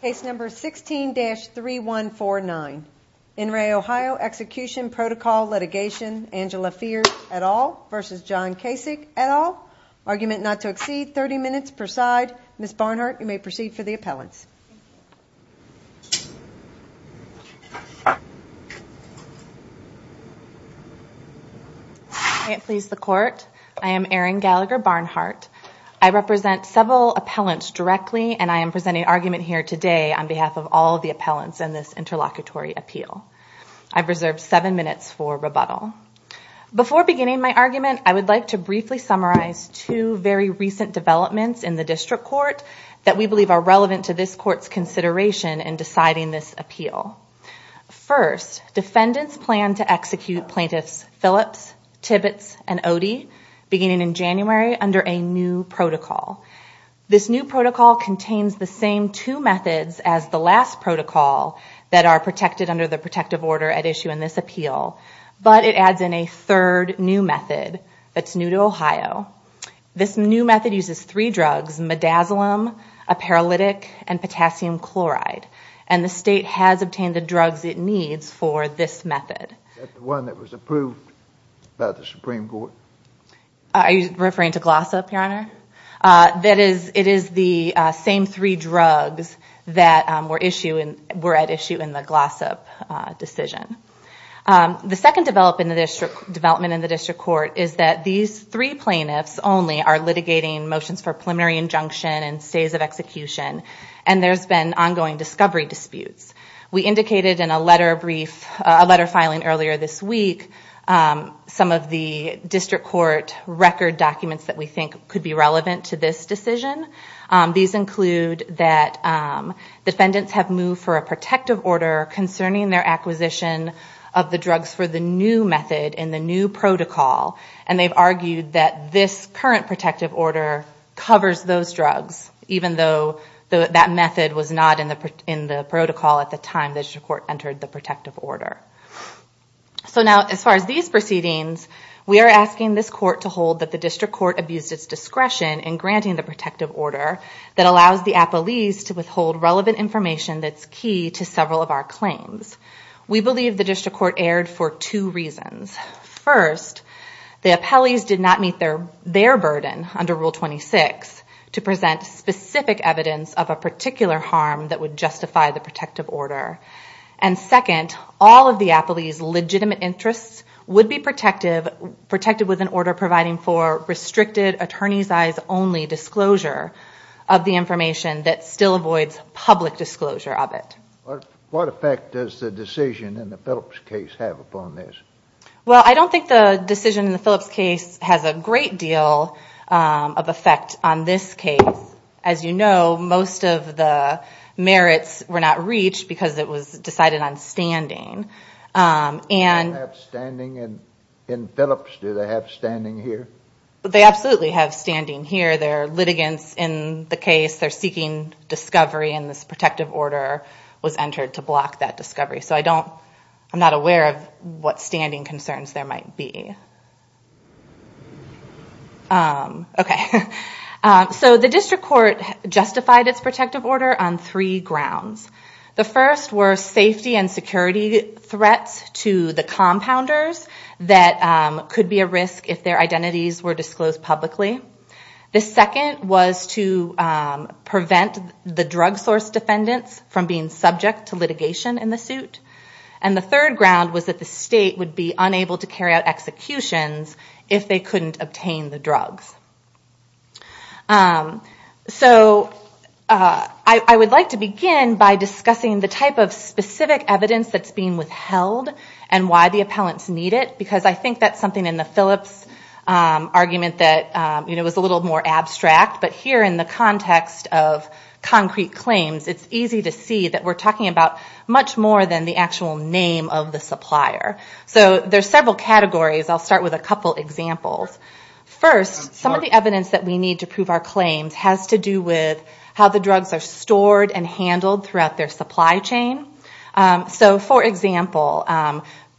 Case number 16-3149. NRA Ohio Execution Protocol Litigation. Angela Fears et al. v. John Kasich et al. Argument not to exceed 30 minutes per side. Ms. Barnhart, you may proceed to the appellant. May it please the Court. I am Erin Gallagher Barnhart. I represent several appellants directly and I am presenting argument here today on behalf of all the appellants in this interlocutory appeal. I've reserved seven minutes for rebuttal. Before beginning my argument, I would like to briefly summarize two very recent developments in the District Court that we believe are relevant to this Court's consideration in deciding this appeal. First, defendants plan to execute plaintiffs Phillips, Tibbetts, and Odie beginning in January under a new protocol. This new protocol contains the same two methods as the last protocol that are protected under the protective order at issue in this appeal. But it adds in a third new method that's new to Ohio. This new method uses three drugs, midazolam, a paralytic, and potassium chloride. And the state has obtained the drugs it needs for this method. That's the one that was approved by the Supreme Court. Are you referring to Glossop, Your Honor? It is the same three drugs that were at issue in the Glossop decision. The second development in the District Court is that these three plaintiffs only are litigating motions for preliminary injunction and stays at execution. And there's been ongoing discovery disputes. We indicated in a letter filing earlier this week some of the District Court record documents that we think could be relevant to this decision. These include that defendants have moved for a protective order concerning their acquisition of the drugs for the new method in the new protocol. And they've argued that this current protective order covers those drugs, even though that method was not in the protocol at the time the District Court entered the protective order. So now, as far as these proceedings, we are asking this court to hold that the District Court abuses discretion in granting the protective order that allows the appellees to withhold relevant information that's key to several of our claims. We believe the District Court erred for two reasons. First, the appellees did not meet their burden under Rule 26 to present specific evidence of a particular harm that would justify the protective order. And second, all of the appellees' legitimate interests would be protected with an order providing for restricted, attorney's-eyes-only disclosure of the information that still avoids public disclosure of it. What effect does the decision in the Phillips case have upon this? Well, I don't think the decision in the Phillips case has a great deal of effect on this case. As you know, most of the merits were not reached because it was decided on standing. Do they have standing in Phillips? Do they have standing here? They absolutely have standing here. I don't know whether there are litigants in the case that are seeking discovery and this protective order was entered to block that discovery. So I don't – I'm not aware of what standing concerns there might be. Okay. So the District Court justified its protective order on three grounds. The first were safety and security threats to the compounders that could be a risk if their identities were disclosed publicly. The second was to prevent the drug source defendants from being subject to litigation in the suit. And the third ground was that the state would be unable to carry out executions if they couldn't obtain the drugs. So I would like to begin by discussing the type of specific evidence that's being withheld and why the appellants need it, because I think that's something in the Phillips argument that, you know, was a little more abstract. But here in the context of concrete claims, it's easy to see that we're talking about much more than the actual name of the supplier. So there's several categories. I'll start with a couple examples. First, some of the evidence that we need to prove our claims has to do with how the drugs are stored and handled throughout their supply chain. So, for example,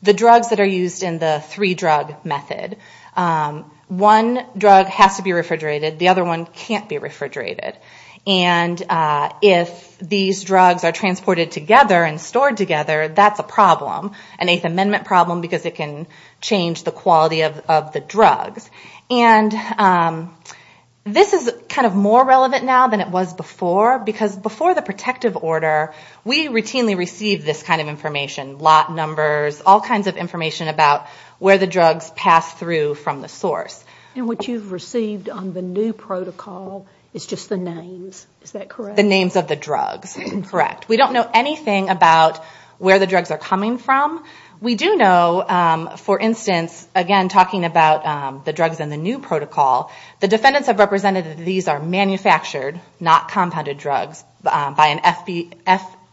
the drugs that are used in the three-drug method, one drug has to be refrigerated. The other one can't be refrigerated. And if these drugs are transported together and stored together, that's a problem, an Eighth Amendment problem, because it can change the quality of the drugs. And this is kind of more relevant now than it was before, because before the protective order, we routinely received this kind of information, lot numbers, all kinds of information about where the drugs pass through from the source. And what you've received on the new protocol is just the names, is that correct? The names of the drugs, correct. We don't know anything about where the drugs are coming from. We do know, for instance, again, talking about the drugs in the new protocol, the defendants have represented that these are manufactured, not compounded drugs, by an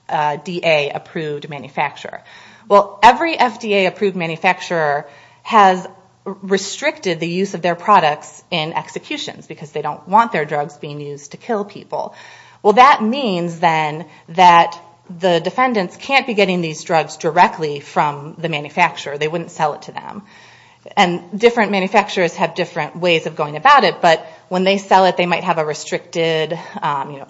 SDA-approved manufacturer. Well, every SDA-approved manufacturer has restricted the use of their products in executions, because they don't want their drugs being used to kill people. Well, that means, then, that the defendants can't be getting these drugs directly from the manufacturer. They wouldn't sell it to them. And different manufacturers have different ways of going about it, but when they sell it, they might have a restricted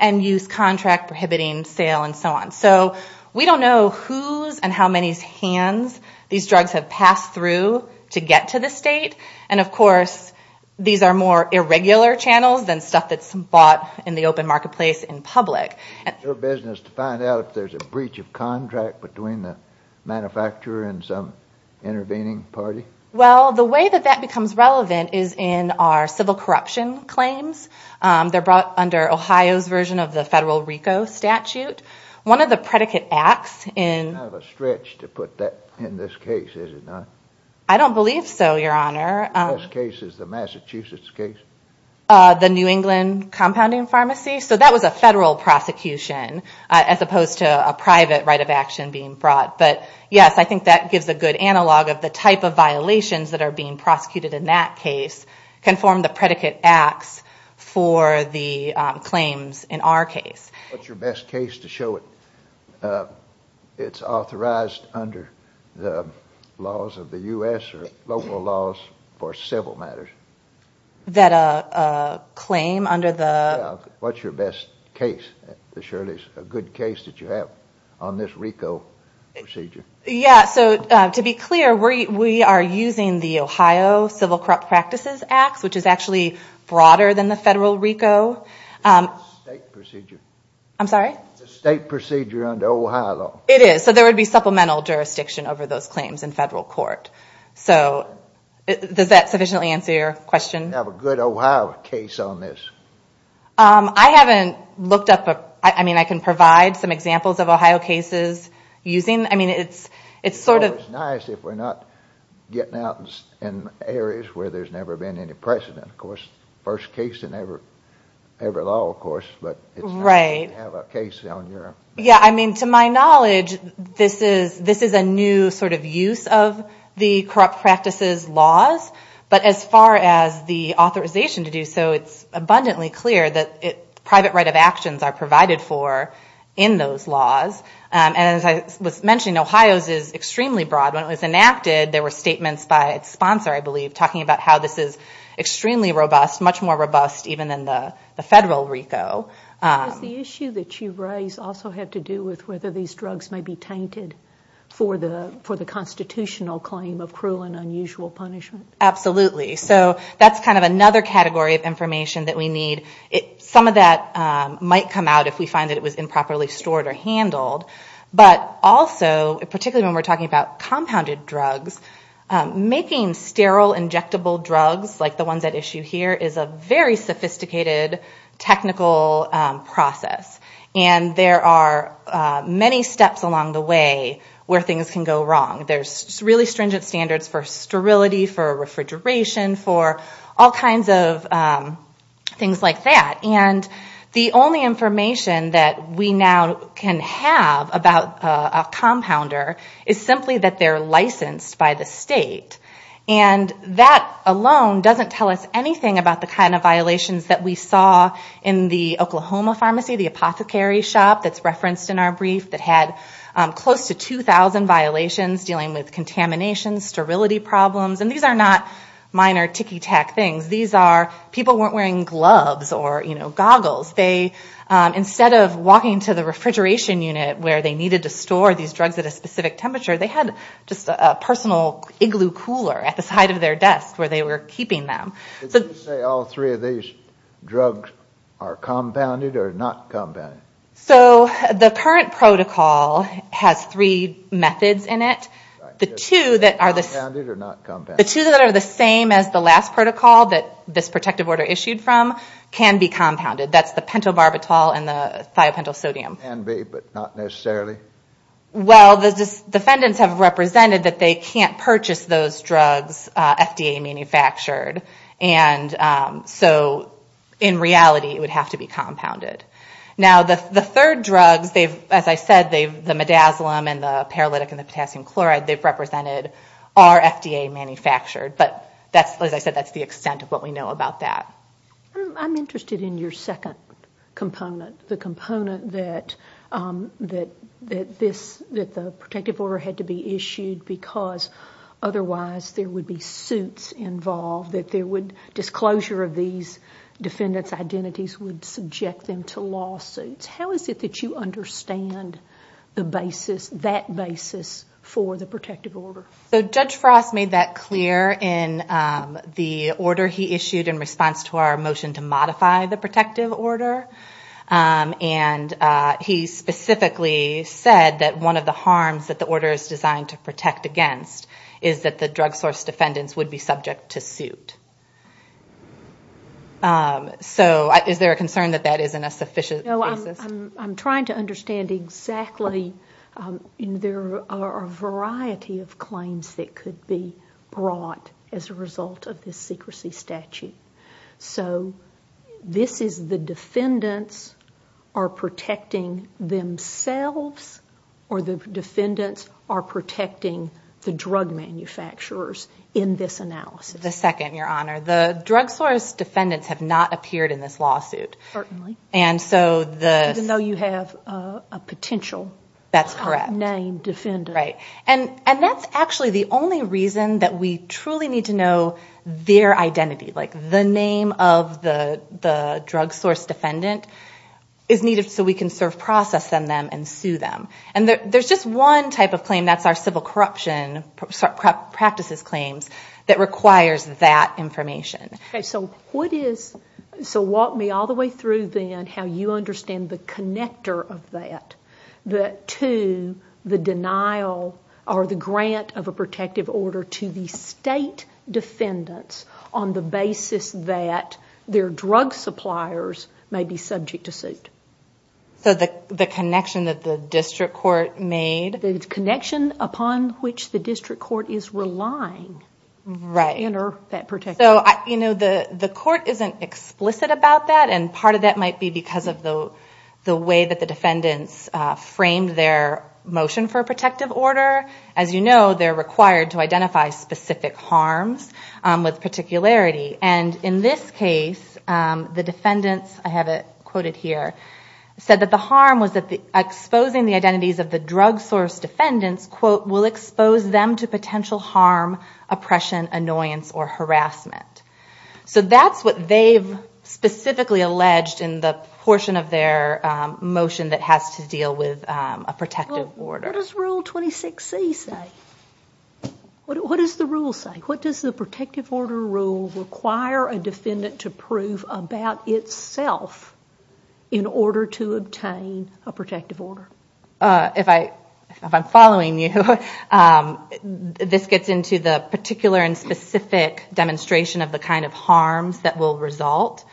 end-use contract prohibiting sale and so on. So we don't know whose and how many hands these drugs have passed through to get to the state. And, of course, these are more irregular channels than stuff that's bought in the open marketplace in public. Is it your business to find out if there's a breach of contract between the manufacturer and some intervening party? Well, the way that that becomes relevant is in our civil corruption claims. They're brought under Ohio's version of the federal RICO statute. One of the predicate acts in... Kind of a stretch to put that in this case, is it not? I don't believe so, Your Honor. What case is the Massachusetts case? The New England Compounding Pharmacy. So that was a federal prosecution, as opposed to a private right of action being brought. But, yes, I think that gives a good analog of the type of violations that are being prosecuted in that case can form the predicate acts for the claims in our case. What's your best case to show it? It's authorized under the laws of the U.S. or local laws for civil matters. That a claim under the... What's your best case to show it is a good case that you have on this RICO procedure? Yeah, so to be clear, we are using the Ohio Civil Corrupt Practices Act, which is actually broader than the federal RICO. It's a state procedure. I'm sorry? It's a state procedure under Ohio law. It is. So there would be supplemental jurisdiction over those claims in federal court. So does that sufficiently answer your question? Do you have a good Ohio case on this? I haven't looked up... I mean, I can provide some examples of Ohio cases using... I mean, it's sort of... It's nice if we're not getting out in areas where there's never been any precedent. Of course, first case in every law, of course. But it's nice to have a case on your... Yeah, I mean, to my knowledge, this is a new sort of use of the corrupt practices laws. But as far as the authorization to do so, it's abundantly clear that private right of actions are provided for in those laws. And as I was mentioning, Ohio's is extremely broad. When it was enacted, there were statements by its sponsor, I believe, talking about how this is extremely robust, much more robust even than the federal RICO. The issue that you raised also had to do with whether these drugs may be tainted for the constitutional claim of cruel and unusual punishment. Absolutely. So that's kind of another category of information that we need. Some of that might come out if we find that it was improperly stored or handled. But also, particularly when we're talking about compounded drugs, making sterile injectable drugs like the ones at issue here is a very sophisticated technical process. And there are many steps along the way where things can go wrong. There's really stringent standards for sterility, for refrigeration, for all kinds of things like that. And the only information that we now can have about a compounder is simply that they're licensed by the state. And that alone doesn't tell us anything about the kind of violations that we saw in the Oklahoma pharmacy, the apothecary shop that's referenced in our brief that had close to 2,000 violations dealing with contamination, sterility problems. And these are not minor kicky tack things. These are people weren't wearing gloves or goggles. Instead of walking to the refrigeration unit where they needed to store these drugs at a specific temperature, they had just a personal igloo cooler at the side of their desk where they were keeping them. Did you say all three of these drugs are compounded or not compounded? So the current protocol has three methods in it. Compounded or not compounded? The two that are the same as the last protocol that this protective order issued from can be compounded. That's the pentobarbital and the thiopentosodium. Can be, but not necessarily? Well, the defendants have represented that they can't purchase those drugs FDA manufactured. And so in reality, it would have to be compounded. Now, the third drug, as I said, the midazolam and the paralytic and the potassium chloride, they've represented are FDA manufactured. But as I said, that's the extent of what we know about that. I'm interested in your second component, the component that the protective order had to be issued because otherwise there would be suits involved, disclosure of these defendants' identities would subject them to lawsuits. How is it that you understand that basis for the protective order? So Judge Frost made that clear in the order he issued in response to our motion to modify the protective order. And he specifically said that one of the harms that the order is designed to protect against is that the drug source defendants would be subject to suit. So is there a concern that that isn't a sufficient basis? I'm trying to understand exactly. There are a variety of claims that could be brought as a result of this secrecy statute. So this is the defendants are protecting themselves or the defendants are protecting the drug manufacturers in this analysis. The second, Your Honor. The drug source defendants have not appeared in this lawsuit. Certainly. And so the... Even though you have a potential... That's correct. ...name defender. Right. And that's actually the only reason that we truly need to know their identity. Like the name of the drug source defendant is needed so we can serve process on them and sue them. And there's just one type of claim, that's our civil corruption practices claims, that requires that information. Okay. So what is... So walk me all the way through then how you understand the connector of that to the denial or the grant of a protective order to the state defendants on the basis that their drug suppliers may be subject to suit. So the connection that the district court made... The connection upon which the district court is relying... Right. ...in that particular case. So, you know, the court isn't explicit about that, and part of that might be because of the way that the defendants framed their motion for a protective order. As you know, they're required to identify specific harms with particularity. And in this case, the defendants, I have it quoted here, said that the harm was that exposing the identities of the drug source defendants, quote, will expose them to potential harm, oppression, annoyance, or harassment. So that's what they've specifically alleged in the portion of their motion that has to deal with a protective order. What does Rule 26C say? What does the rule say? What does the protective order rule require a defendant to prove about itself in order to obtain a protective order? If I'm following you, this gets into the particular and specific demonstration of the kind of harms that will result.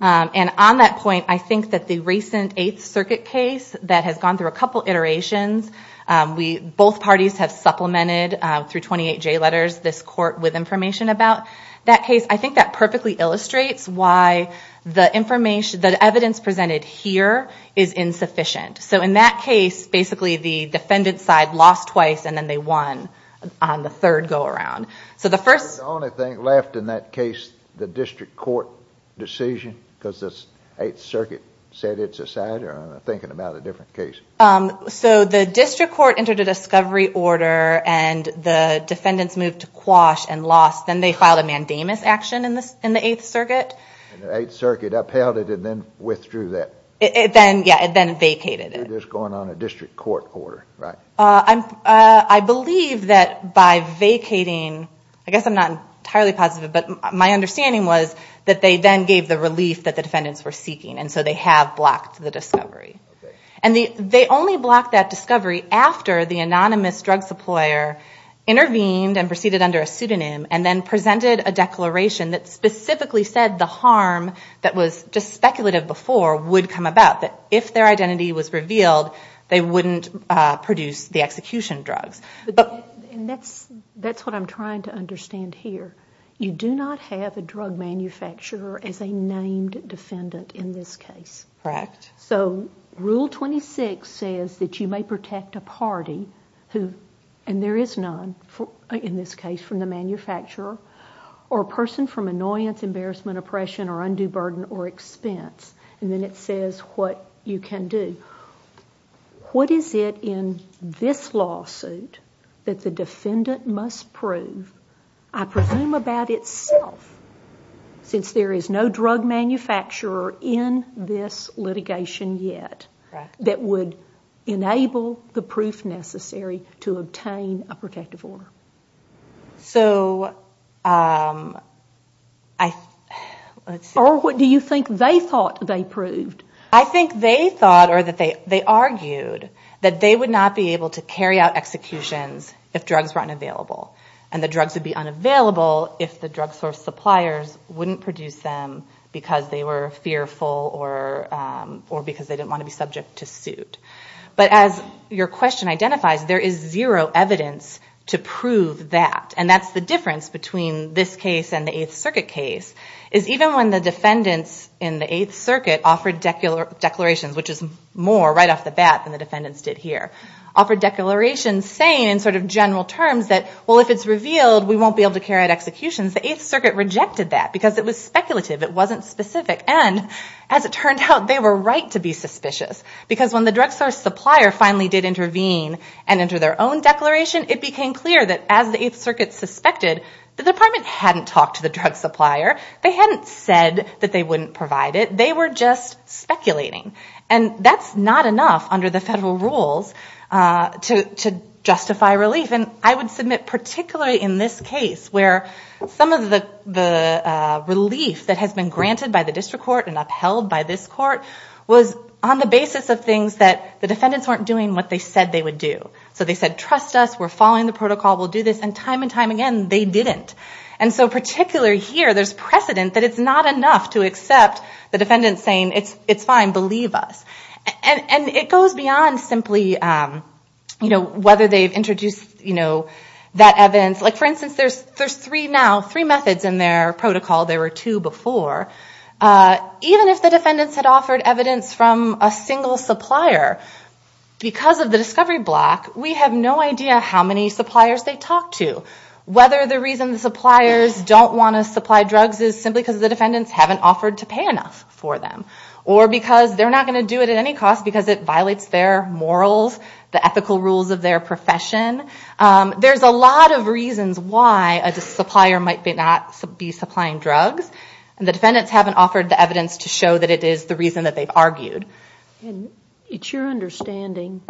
And on that point, I think that the recent Eighth Circuit case that has gone through a couple iterations, both parties have supplemented through 28J letters this court with information about that case. I think that perfectly illustrates why the evidence presented here is insufficient. So in that case, basically the defendant side lost twice, and then they won on the third go-around. So the first- The only thing left in that case, the district court decision, because the Eighth Circuit set it aside, or I'm thinking about a different case. So the district court entered a discovery order, and the defendants moved to quash and lost. Then they filed a mandamus action in the Eighth Circuit. And the Eighth Circuit upheld it and then withdrew that. It then vacated it. This is going on a district court order, right? I believe that by vacating, I guess I'm not entirely positive, but my understanding was that they then gave the relief that the defendants were seeking, and so they have blocked the discovery. And they only blocked that discovery after the anonymous drug supplier intervened and proceeded under a pseudonym and then presented a declaration that specifically said the harm that was just speculative before would come about, that if their identity was revealed, they wouldn't produce the execution drug. And that's what I'm trying to understand here. You do not have a drug manufacturer as a named defendant in this case. Correct. So Rule 26 says that you may protect a party, and there is none in this case from the manufacturer, or a person from annoyance, embarrassment, oppression, or undue burden or expense. And then it says what you can do. What is it in this lawsuit that the defendant must prove, I presume about itself, since there is no drug manufacturer in this litigation yet, that would enable the proof necessary to obtain a protective order? So I... Or what do you think they thought they proved? I think they thought or that they argued that they would not be able to carry out executions if drugs were unavailable, and the drugs would be unavailable if the drug source suppliers wouldn't produce them because they were fearful or because they didn't want to be subject to suit. But as your question identifies, there is zero evidence to prove that. And that's the difference between this case and the Eighth Circuit case, is even when the defendants in the Eighth Circuit offered declarations, which is more right off the bat than the defendants did here, offered declarations saying in sort of general terms that, well, if it's revealed, we won't be able to carry out executions. The Eighth Circuit rejected that because it was speculative. It wasn't specific. And as it turned out, they were right to be suspicious because when the drug source supplier finally did intervene and enter their own declaration, it became clear that as the Eighth Circuit suspected, the department hadn't talked to the drug supplier. They hadn't said that they wouldn't provide it. They were just speculating. And that's not enough under the federal rules to justify relief. And I would submit particularly in this case where some of the relief that has been granted by the district court and upheld by this court was on the basis of things that the defendants weren't doing what they said they would do. So they said, trust us. We're following the protocol. We'll do this. And time and time again, they didn't. And so particularly here, there's precedent that it's not enough to accept the defendants saying, it's fine, believe us. And it goes beyond simply, you know, whether they've introduced, you know, that evidence. Like, for instance, there's three now, three methods in their protocol. There were two before. Even if the defendants had offered evidence from a single supplier, because of the discovery block, we have no idea how many suppliers they talked to. Whether the reason suppliers don't want to supply drugs is simply because the defendants haven't offered to pay enough for them or because they're not going to do it at any cost because it violates their morals, the ethical rules of their profession. There's a lot of reasons why a supplier might not be supplying drugs. And the defendants haven't offered the evidence to show that it is the reason that they've argued. And it's your understanding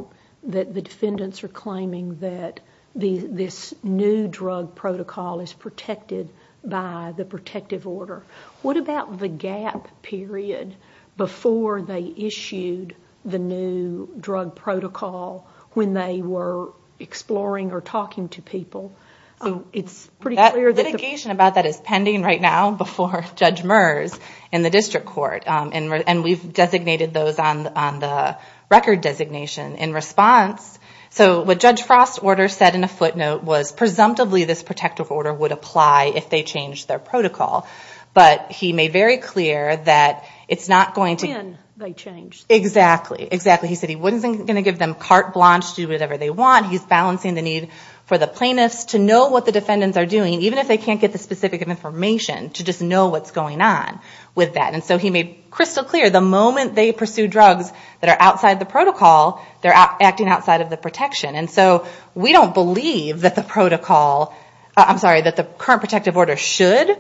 that the defendants are claiming that this new drug protocol is protected by the protective order. What about the gap period before they issued the new drug protocol when they were exploring or talking to people? That litigation about that is pending right now before Judge Meurs in the district court. And we've designated those on the record designation. In response, so what Judge Frost's order said in a footnote was, presumptively this protective order would apply if they changed their protocol. But he made very clear that it's not going to... Again, they changed. Exactly, exactly. He said he wasn't going to give them carte blanche to do whatever they want. He's balancing the need for the plaintiffs to know what the defendants are doing, even if they can't get the specific information, to just know what's going on with that. And so he made crystal clear the moment they pursue drugs that are outside the protocol, they're acting outside of the protection. And so we don't believe that the protocol... I'm sorry, that the current protective order should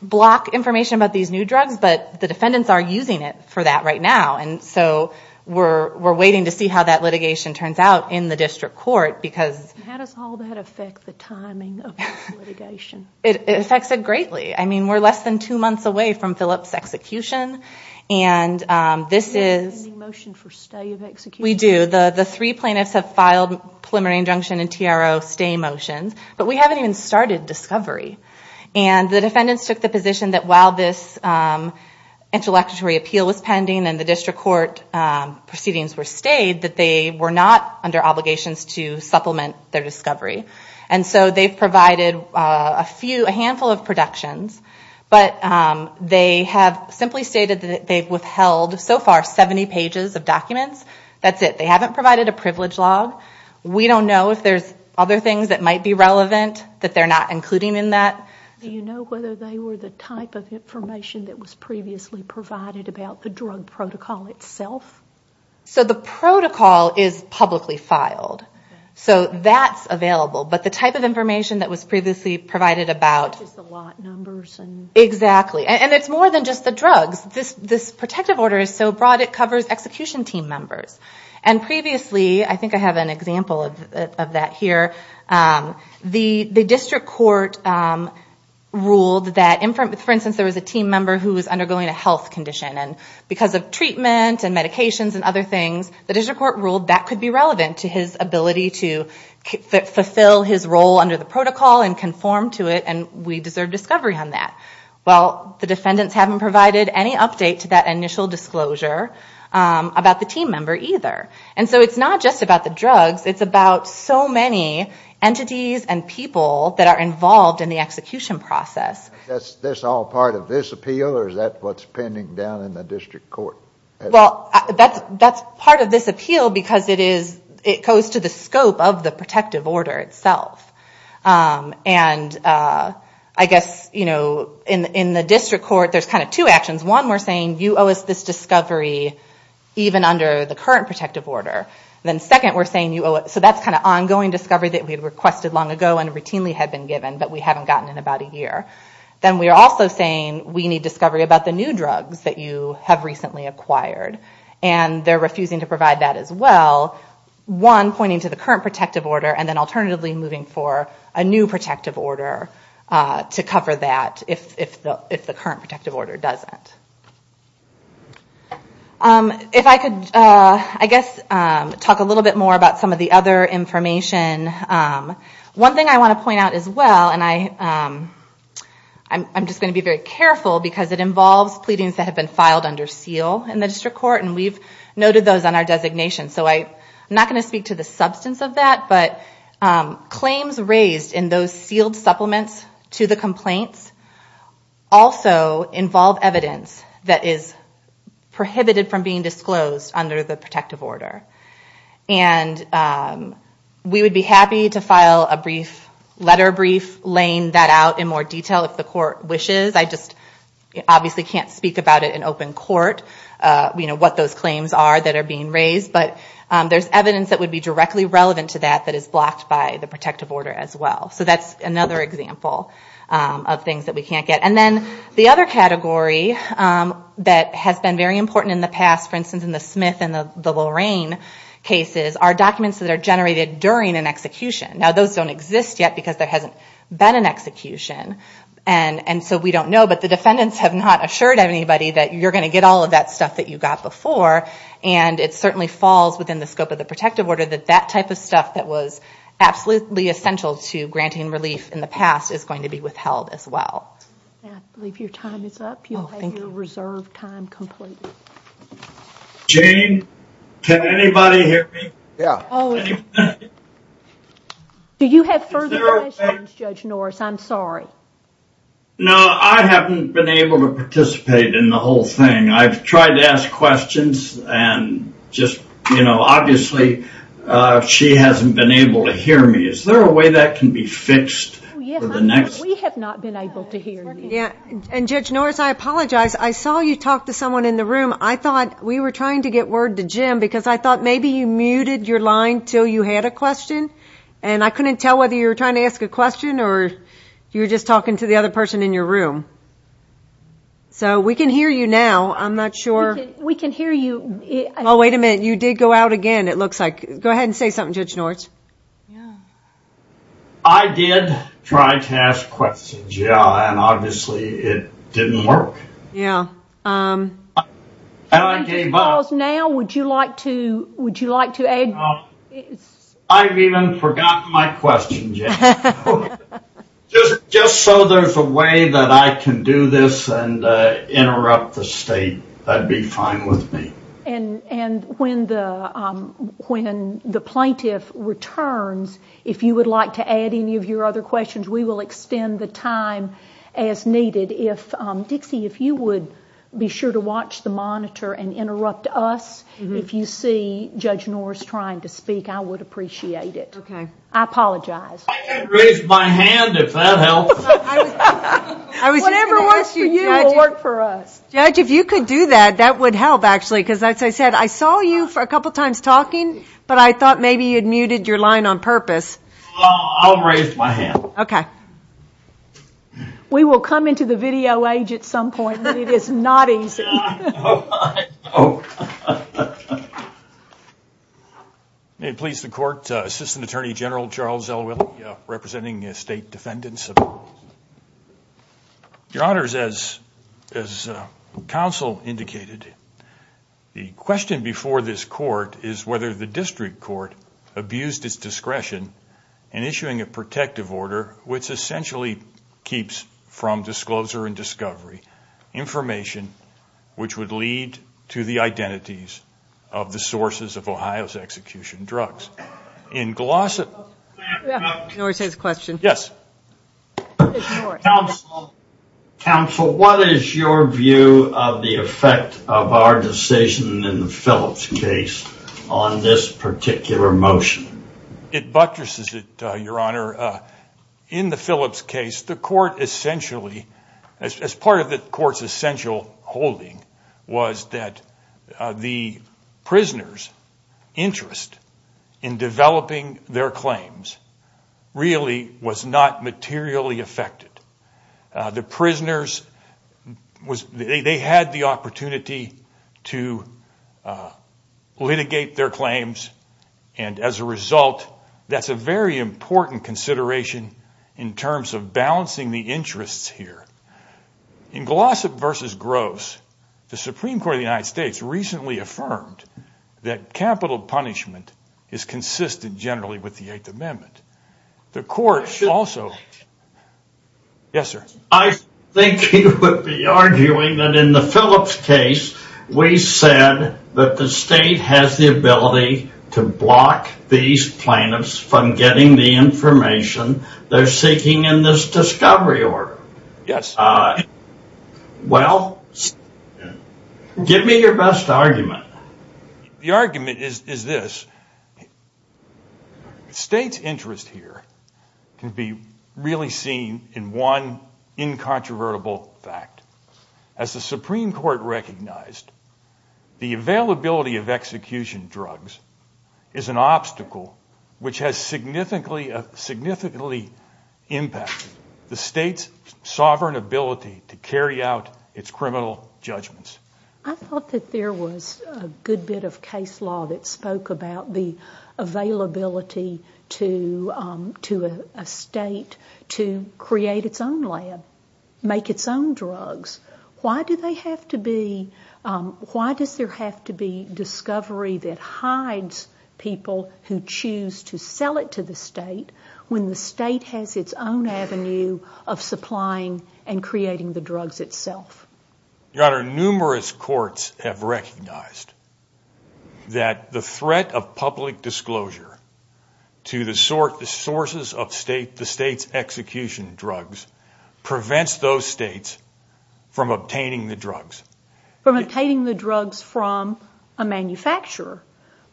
block information about these new drugs, but the defendants are using it for that right now. And so we're waiting to see how that litigation turns out in the district court because... How does all that affect the timing of the litigation? It affects it greatly. I mean, we're less than two months away from Phillip's execution, and this is... Do you have any motion for stay of execution? We do. The three plaintiffs have filed preliminary injunction and TRO stay motion, but we haven't even started discovery. And the defendants took the position that while this intellectual appeal is pending and the district court proceedings were stayed, that they were not under obligations to supplement their discovery. And so they've provided a handful of protections, but they have simply stated that they've withheld so far 70 pages of documents. That's it. They haven't provided a privilege log. We don't know if there's other things that might be relevant that they're not including in that. Do you know whether they were the type of information that was previously provided about the drug protocol itself? So the protocol is publicly filed. So that's available. But the type of information that was previously provided about... The lot numbers and... Exactly. And it's more than just the drugs. This protective order is so broad it covers execution team members. And previously, I think I have an example of that here, the district court ruled that, for instance, there was a team member who was undergoing a health condition. And because of treatment and medications and other things, the district court ruled that could be relevant to his ability to fulfill his role under the protocol and conform to it, and we deserve discovery on that. Well, the defendants haven't provided any update to that initial disclosure about the team member either. And so it's not just about the drugs. It's about so many entities and people that are involved in the execution process. That's all part of this appeal, or is that what's pending down in the district court? Well, that's part of this appeal because it goes to the scope of the protective order itself. And I guess, you know, in the district court, there's kind of two actions. One, we're saying you owe us this discovery even under the current protective order. Then second, we're saying you owe us, so that's kind of ongoing discovery that we requested long ago and routinely had been given but we haven't gotten in about a year. Then we're also saying we need discovery about the new drugs that you have recently acquired. And they're refusing to provide that as well. One, pointing to the current protective order, and then alternatively moving for a new protective order to cover that if the current protective order doesn't. If I could, I guess, talk a little bit more about some of the other information. One thing I want to point out as well, and I'm just going to be very careful because it involves pleadings that have been filed under seal in the district court, and we've noted those on our designation. So I'm not going to speak to the substance of that, but claims raised in those sealed supplements to the complaints also involve evidence that is prohibited from being disclosed under the protective order. And we would be happy to file a brief letter brief laying that out in more detail if the court wishes. I just obviously can't speak about it in open court, what those claims are that are being raised, but there's evidence that would be directly relevant to that that is blocked by the protective order as well. So that's another example of things that we can't get. And then the other category that has been very important in the past, for instance in the Smith and the Lorraine cases, are documents that are generated during an execution. Now those don't exist yet because there hasn't been an execution, and so we don't know, but the defendants have not assured anybody that you're going to get all of that stuff that you got before, and it certainly falls within the scope of the protective order that that type of stuff that was absolutely essential to granting relief in the past is going to be withheld as well. I believe your time is up. You have your reserved time completed. Jane, can anybody hear me? Yeah. Do you have further questions, Judge Norris? I'm sorry. No, I haven't been able to participate in the whole thing. I've tried to ask questions and just, you know, obviously she hasn't been able to hear me. Is there a way that can be fenced for the next? We have not been able to hear you. And Judge Norris, I apologize. I saw you talk to someone in the room. I thought we were trying to get word to Jim because I thought maybe you muted your line until you had a question, and I couldn't tell whether you were trying to ask a question or you were just talking to the other person in your room. So we can hear you now. I'm not sure. We can hear you. Oh, wait a minute. You did go out again, it looks like. Go ahead and say something, Judge Norris. I did try to ask questions, yeah, and obviously it didn't work. Yeah. And I gave up. So now would you like to add? I've even forgotten my question, Jane. Just so there's a way that I can do this and interrupt the state, that would be fine with me. And when the plaintiff returns, if you would like to add any of your other questions, we will extend the time as needed. Dixie, if you would be sure to watch the monitor and interrupt us. If you see Judge Norris trying to speak, I would appreciate it. Okay. I apologize. I can raise my hand if that helps. Whatever works for you will work for us. Judge, if you could do that, that would help, actually, because, as I said, I saw you a couple times talking, but I thought maybe you'd muted your line on purpose. I'll raise my hand. Okay. We will come into the video age at some point, but it is not easy. May it please the court, Assistant Attorney General Charles Elwood representing state defendants. Your Honors, as counsel indicated, the question before this court is whether the district court abused its discretion in issuing a protective order which essentially keeps, from disclosure and discovery, information which would lead to the identities of the sources of Ohio's execution drugs. In Glossa... Judge Norris has a question. Yes. Counsel, what is your view of the effect of our decision in the Phillips case on this particular motion? It buttresses it, Your Honor. In the Phillips case, the court essentially, as part of the court's essential holding, was that the prisoners' interest in developing their claims really was not materially affected. The prisoners, they had the opportunity to litigate their claims, and as a result, that's a very important consideration in terms of balancing the interests here. In Glossa versus Gross, the Supreme Court of the United States recently affirmed that capital punishment is consistent generally with the Eighth Amendment. The court also... Yes, sir. I think he would be arguing that in the Phillips case, we said that the state has the ability to block these plaintiffs from getting the information they're seeking in this discovery order. Yes, sir. Well, give me your best argument. The argument is this. The state's interest here can be really seen in one incontrovertible fact. As the Supreme Court recognized, the availability of execution drugs is an obstacle which has significantly impacted the state's sovereign ability to carry out its criminal judgments. I thought that there was a good bit of case law that spoke about the availability to a state to create its own lab, make its own drugs. Why does there have to be discovery that hides people who choose to sell it to the state when the state has its own avenue of supplying and creating the drugs itself? Your Honor, numerous courts have recognized that the threat of public disclosure to the sources of the state's execution drugs prevents those states from obtaining the drugs. From obtaining the drugs from a manufacturer,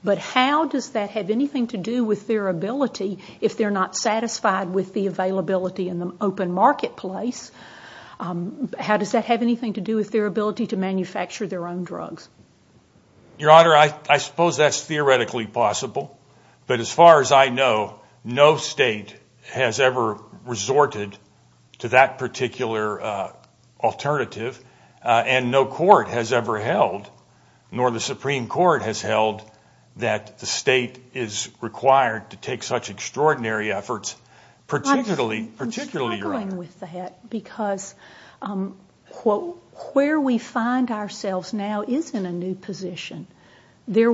but how does that have anything to do with their ability if they're not satisfied with the availability in the open marketplace? How does that have anything to do with their ability to manufacture their own drugs? Your Honor, I suppose that's theoretically possible, but as far as I know, no state has ever resorted to that particular alternative, and no court has ever held, nor the Supreme Court has held, that the state is required to take such extraordinary efforts, particularly... There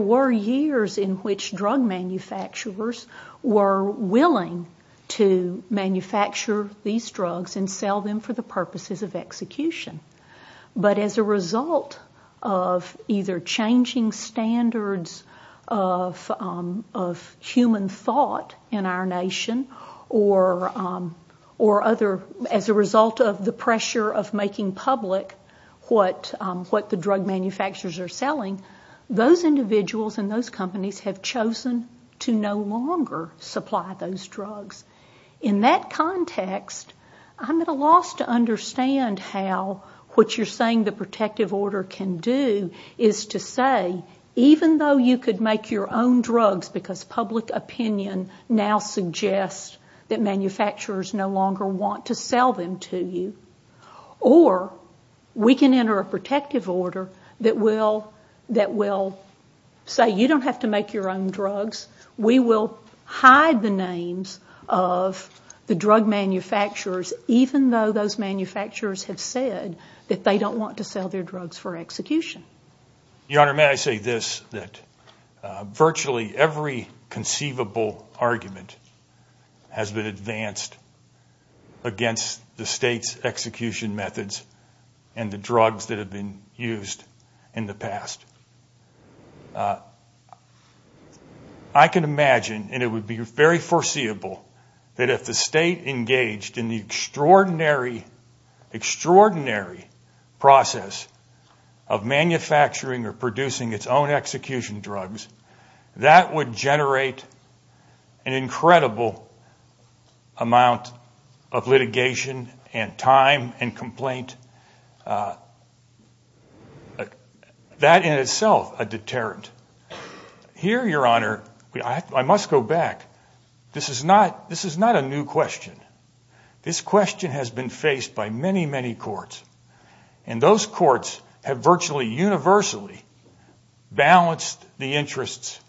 were years in which drug manufacturers were willing to manufacture these drugs and sell them for the purposes of execution, but as a result of either changing standards of human thought in our nation, or as a result of the pressure of making public what the drug manufacturers are selling, those individuals and those companies have chosen to no longer supply those drugs. In that context, I'm at a loss to understand how what you're saying the protective order can do is to say, even though you could make your own drugs, because public opinion now suggests that manufacturers no longer want to sell them to you, or we can enter a protective order that will say, you don't have to make your own drugs, we will hide the names of the drug manufacturers, even though those manufacturers have said that they don't want to sell their drugs for execution. Your Honor, may I say this, that virtually every conceivable argument has been advanced against the state's execution methods and the drugs that have been used in the past. I can imagine, and it would be very foreseeable, that if the state engaged in the extraordinary process of manufacturing or producing its own execution drugs, that would generate an incredible amount of litigation and time and complaint. That in itself, a deterrent. Here, Your Honor, I must go back, this is not a new question. This question has been faced by many, many courts, and those courts have virtually universally balanced the interests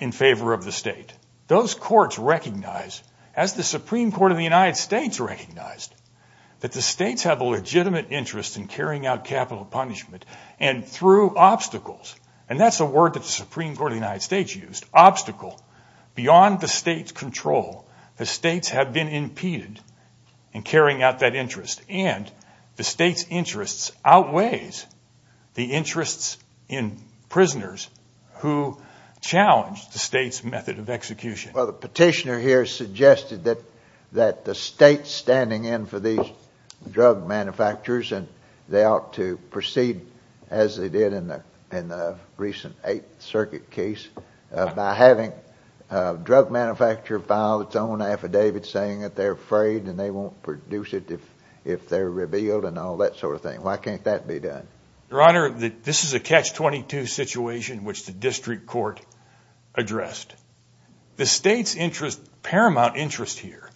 in favor of the state. Those courts recognize, as the Supreme Court of the United States recognized, that the states have a legitimate interest in carrying out capital punishment, and through obstacles, and that's a word that the Supreme Court of the United States used, obstacle, beyond the state's control, the states have been impeded in carrying out that interest, and the state's interest outweighs the interest in prisoners who challenge the state's method of execution. Well, the petitioner here suggested that the states standing in for these drug manufacturers, and they ought to proceed as they did in the recent Eighth Circuit case, by having a drug manufacturer file its own affidavit saying that they're afraid and they won't produce it if they're revealed and all that sort of thing. Why can't that be done? Your Honor, this is a Catch-22 situation which the district court addressed. The state's paramount interest here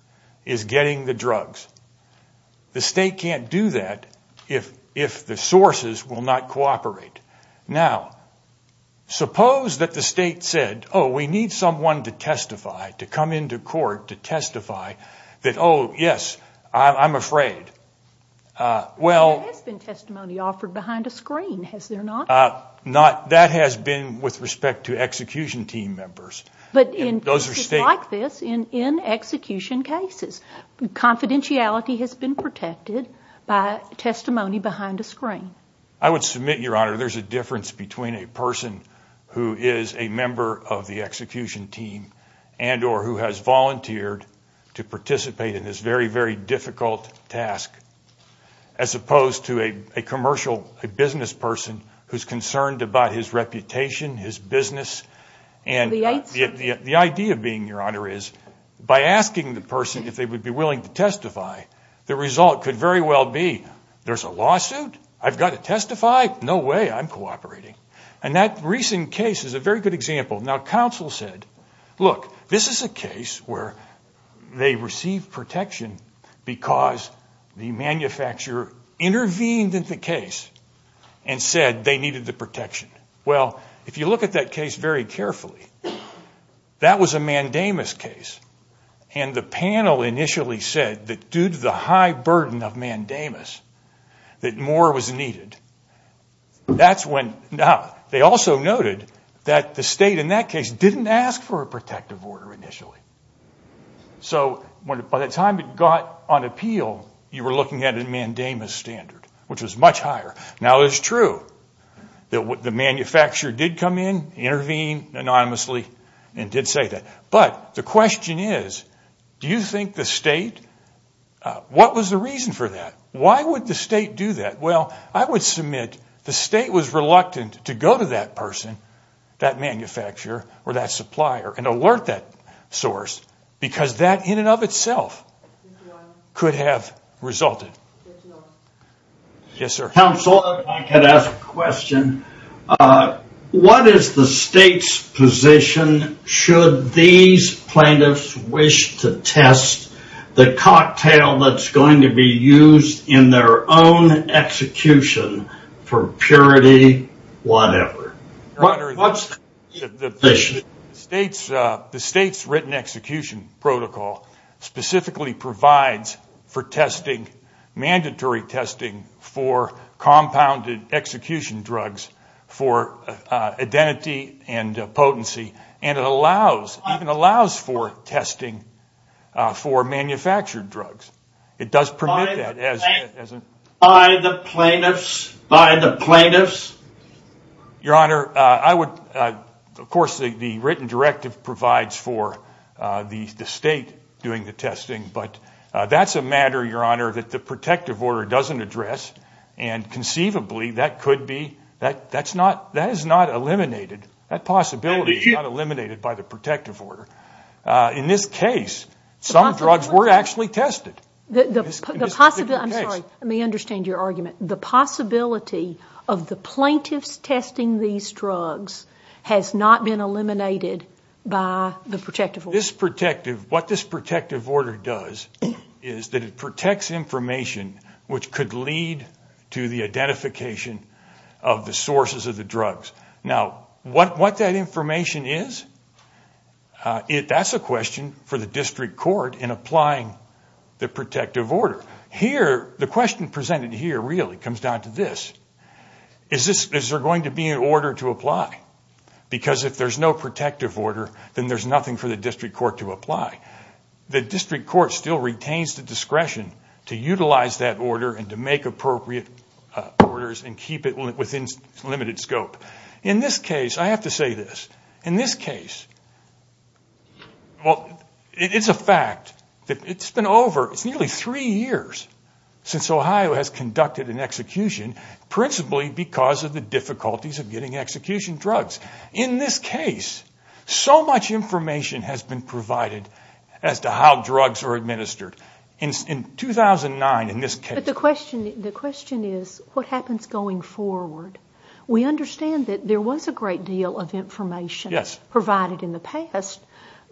is getting the drugs. The state can't do that if the sources will not cooperate. Now, suppose that the state said, oh, we need someone to testify, to come into court to testify, that, oh, yes, I'm afraid. There has been testimony offered behind a screen, has there not? That has been with respect to execution team members. But in cases like this, in execution cases, confidentiality has been protected by testimony behind a screen. I would submit, Your Honor, there's a difference between a person who is a member of the execution team and or who has volunteered to participate in this very, very difficult task as opposed to a commercial, a business person who's concerned about his reputation, his business. The idea being, Your Honor, is by asking the person if they would be willing to testify, the result could very well be there's a lawsuit, I've got to testify, no way, I'm cooperating. And that recent case is a very good example. Now, counsel said, look, this is a case where they received protection because the manufacturer intervened in the case and said they needed the protection. Well, if you look at that case very carefully, that was a mandamus case. And the panel initially said that due to the high burden of mandamus, that more was needed. Now, they also noted that the state in that case didn't ask for a protective order initially. So by the time it got on appeal, you were looking at a mandamus standard, which was much higher. Now, it is true that the manufacturer did come in, intervene anonymously, and did say that. But the question is, do you think the state, what was the reason for that? Why would the state do that? Well, I would submit the state was reluctant to go to that person, that manufacturer or that supplier, and alert that source because that in and of itself could have resulted. Yes, sir. Counsel, if I could ask a question. What is the state's position should these plaintiffs wish to test the cocktail that's going to be used in their own execution for purity, whatever? The state's written execution protocol specifically provides for testing, mandatory testing for compounded execution drugs for identity and potency. And it allows for testing for manufactured drugs. By the plaintiffs? Your Honor, I would, of course, the written directive provides for the state doing the testing. But that's a matter, Your Honor, that the protective order doesn't address. And conceivably, that could be, that is not eliminated. That possibility is not eliminated by the protective order. In this case, some drugs were actually tested. The possibility, I'm sorry, let me understand your argument. The possibility of the plaintiffs testing these drugs has not been eliminated by the protective order. This protective, what this protective order does is that it protects information which could lead to the identification of the sources of the drugs. Now, what that information is, that's a question for the district court in applying the protective order. Here, the question presented here really comes down to this. Is there going to be an order to apply? Because if there's no protective order, then there's nothing for the district court to apply. The district court still retains the discretion to utilize that order and to make appropriate orders and keep it within limited scope. In this case, I have to say this. In this case, it's a fact that it's been over nearly three years since Ohio has conducted an execution, principally because of the difficulties of getting execution drugs. In this case, so much information has been provided as to how drugs are administered. In 2009, in this case. The question is, what happens going forward? We understand that there was a great deal of information provided in the past,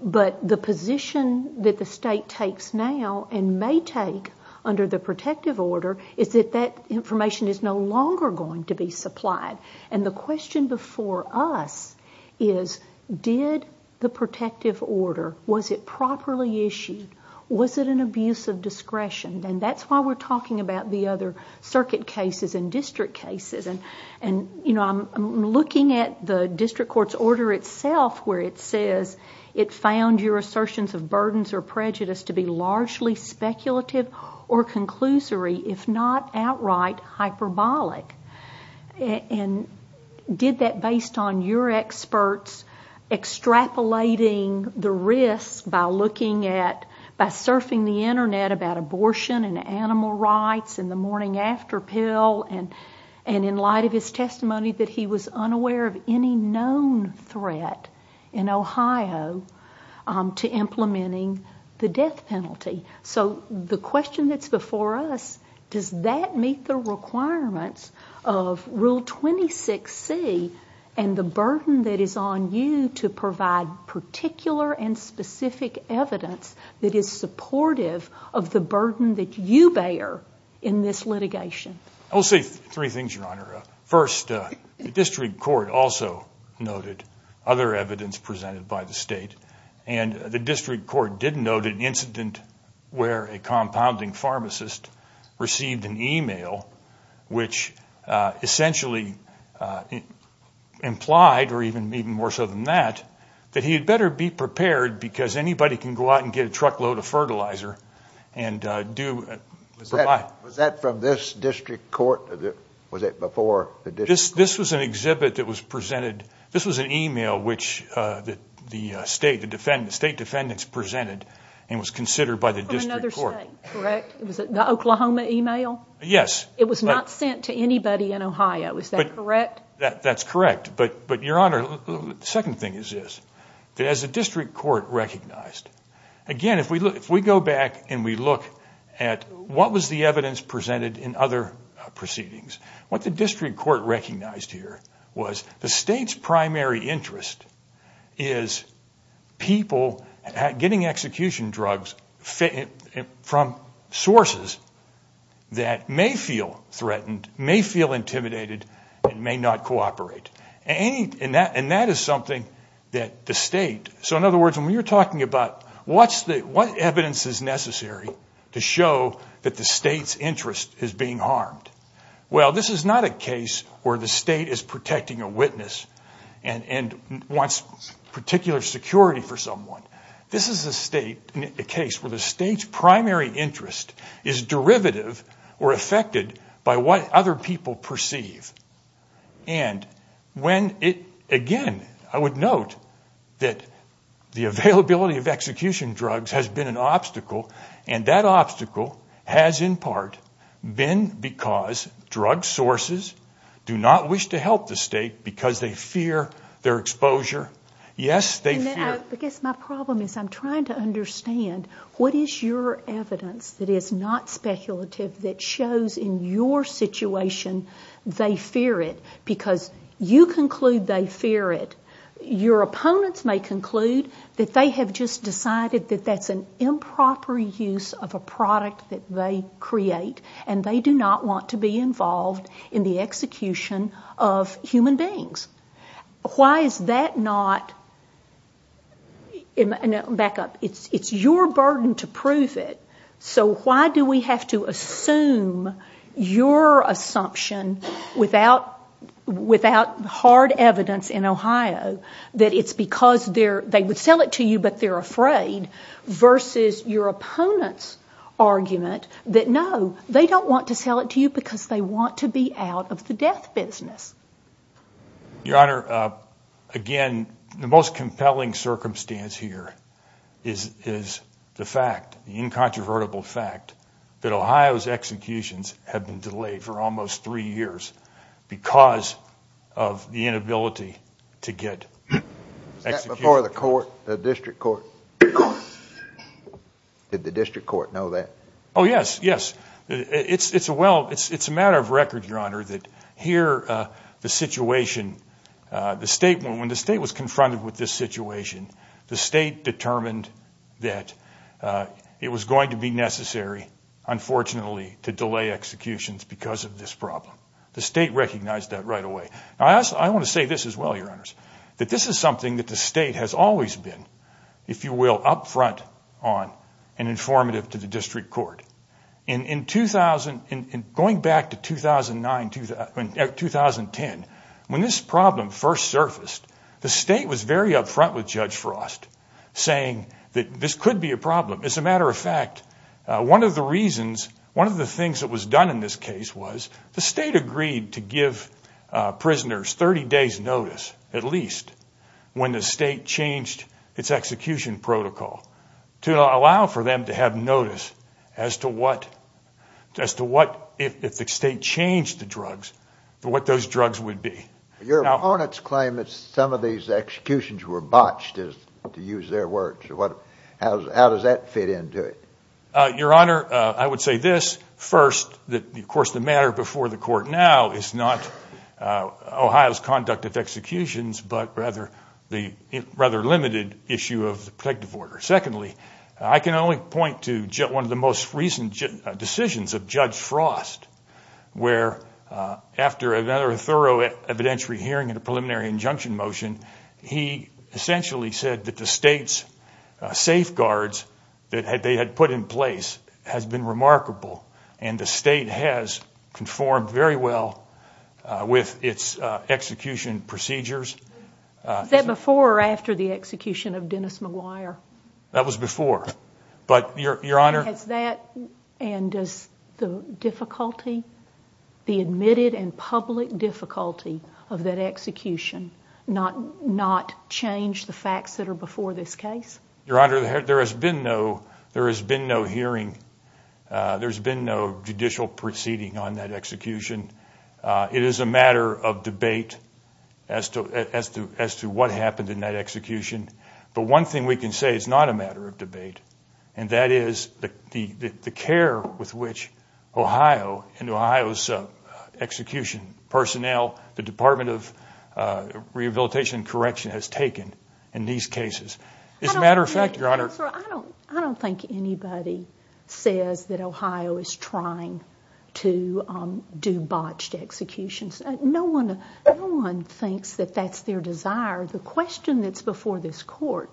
but the position that the state takes now and may take under the protective order is that that information is no longer going to be supplied. And the question before us is, did the protective order, was it properly issued? Was it an abuse of discretion? And that's why we're talking about the other circuit cases and district cases. And, you know, I'm looking at the district court's order itself where it says, it's found your assertions of burdens or prejudice to be largely speculative or conclusory, if not outright hyperbolic. And did that based on your experts extrapolating the risks by looking at, by surfing the Internet about abortion and animal rights and the morning after pill and in light of his testimony that he was unaware of any known threat in Ohio to implementing the death penalty. So the question that's before us, does that meet the requirements of Rule 26C and the burden that is on you to provide particular and specific evidence that is supportive of the burden that you bear in this litigation? I'll say three things, Your Honor. First, the district court also noted other evidence presented by the state, and the district court did note an incident where a compounding pharmacist received an email which essentially implied, or even more so than that, that he had better be prepared because anybody can go out and get a truckload of fertilizer. Was that from this district court? Was it before the district court? This was an exhibit that was presented. This was an email which the state defendants presented and was considered by the district court. From another state, correct? Was it the Oklahoma email? Yes. It was not sent to anybody in Ohio, is that correct? That's correct. But, Your Honor, the second thing is this. Has the district court recognized? Again, if we go back and we look at what was the evidence presented in other proceedings, what the district court recognized here was the state's primary interest is people getting execution drugs from sources that may feel threatened, may feel intimidated, may not cooperate. And that is something that the state, so in other words, when we were talking about what evidence is necessary to show that the state's interest is being harmed, well, this is not a case where the state is protecting a witness and wants particular security for someone. This is a case where the state's primary interest is derivative or affected by what other people perceive. And again, I would note that the availability of execution drugs has been an obstacle, and that obstacle has in part been because drug sources do not wish to help the state because they fear their exposure. Yes, they fear. I guess my problem is I'm trying to understand what is your evidence that is not speculative that shows in your situation they fear it, because you conclude they fear it. Your opponents may conclude that they have just decided that that's an improper use of a product that they create, and they do not want to be involved in the execution of human beings. Why is that not, back up, it's your burden to prove it, so why do we have to assume your assumption without hard evidence in Ohio that it's because they would sell it to you but they're afraid versus your opponent's argument that no, they don't want to sell it to you because they want to be out of the death business? Your Honor, again, the most compelling circumstance here is the fact, the incontrovertible fact, that Ohio's executions have been delayed for almost three years because of the inability to get executed. Before the court, the district court, did the district court know that? Oh yes, yes, it's a matter of record, Your Honor, that here the situation, when the state was confronted with this situation, the state determined that it was going to be necessary, unfortunately, to delay executions because of this problem. The state recognized that right away. I want to say this as well, Your Honors, that this is something that the state has always been, if you will, up front on and informative to the district court. Going back to 2010, when this problem first surfaced, the state was very up front with Judge Frost saying that this could be a problem. As a matter of fact, one of the reasons, one of the things that was done in this case was the state agreed to give prisoners 30 days notice, at least, when the state changed its execution protocol to allow for them to have notice as to what, if the state changed the drugs, what those drugs would be. Your opponents claim that some of these executions were botched, to use their words. How does that fit into it? Your Honor, I would say this. First, of course, the matter before the court now is not Ohio's conduct of executions, but rather the rather limited issue of the protective order. Secondly, I can only point to one of the most recent decisions of Judge Frost, where after a very thorough evidentiary hearing and a preliminary injunction motion, he essentially said that the state's safeguards that they had put in place had been remarkable, and the state has conformed very well with its execution procedures. Was that before or after the execution of Dennis McGuire? That was before. And does the difficulty, the admitted and public difficulty of that execution not change the facts that are before this case? Your Honor, there has been no hearing. There's been no judicial proceeding on that execution. It is a matter of debate as to what happened in that execution. The one thing we can say is not a matter of debate, and that is the care with which Ohio and Ohio's execution personnel, the Department of Rehabilitation and Correction has taken in these cases. As a matter of fact, Your Honor. I don't think anybody says that Ohio is trying to do botched executions. No one thinks that that's their desire. The question that's before this court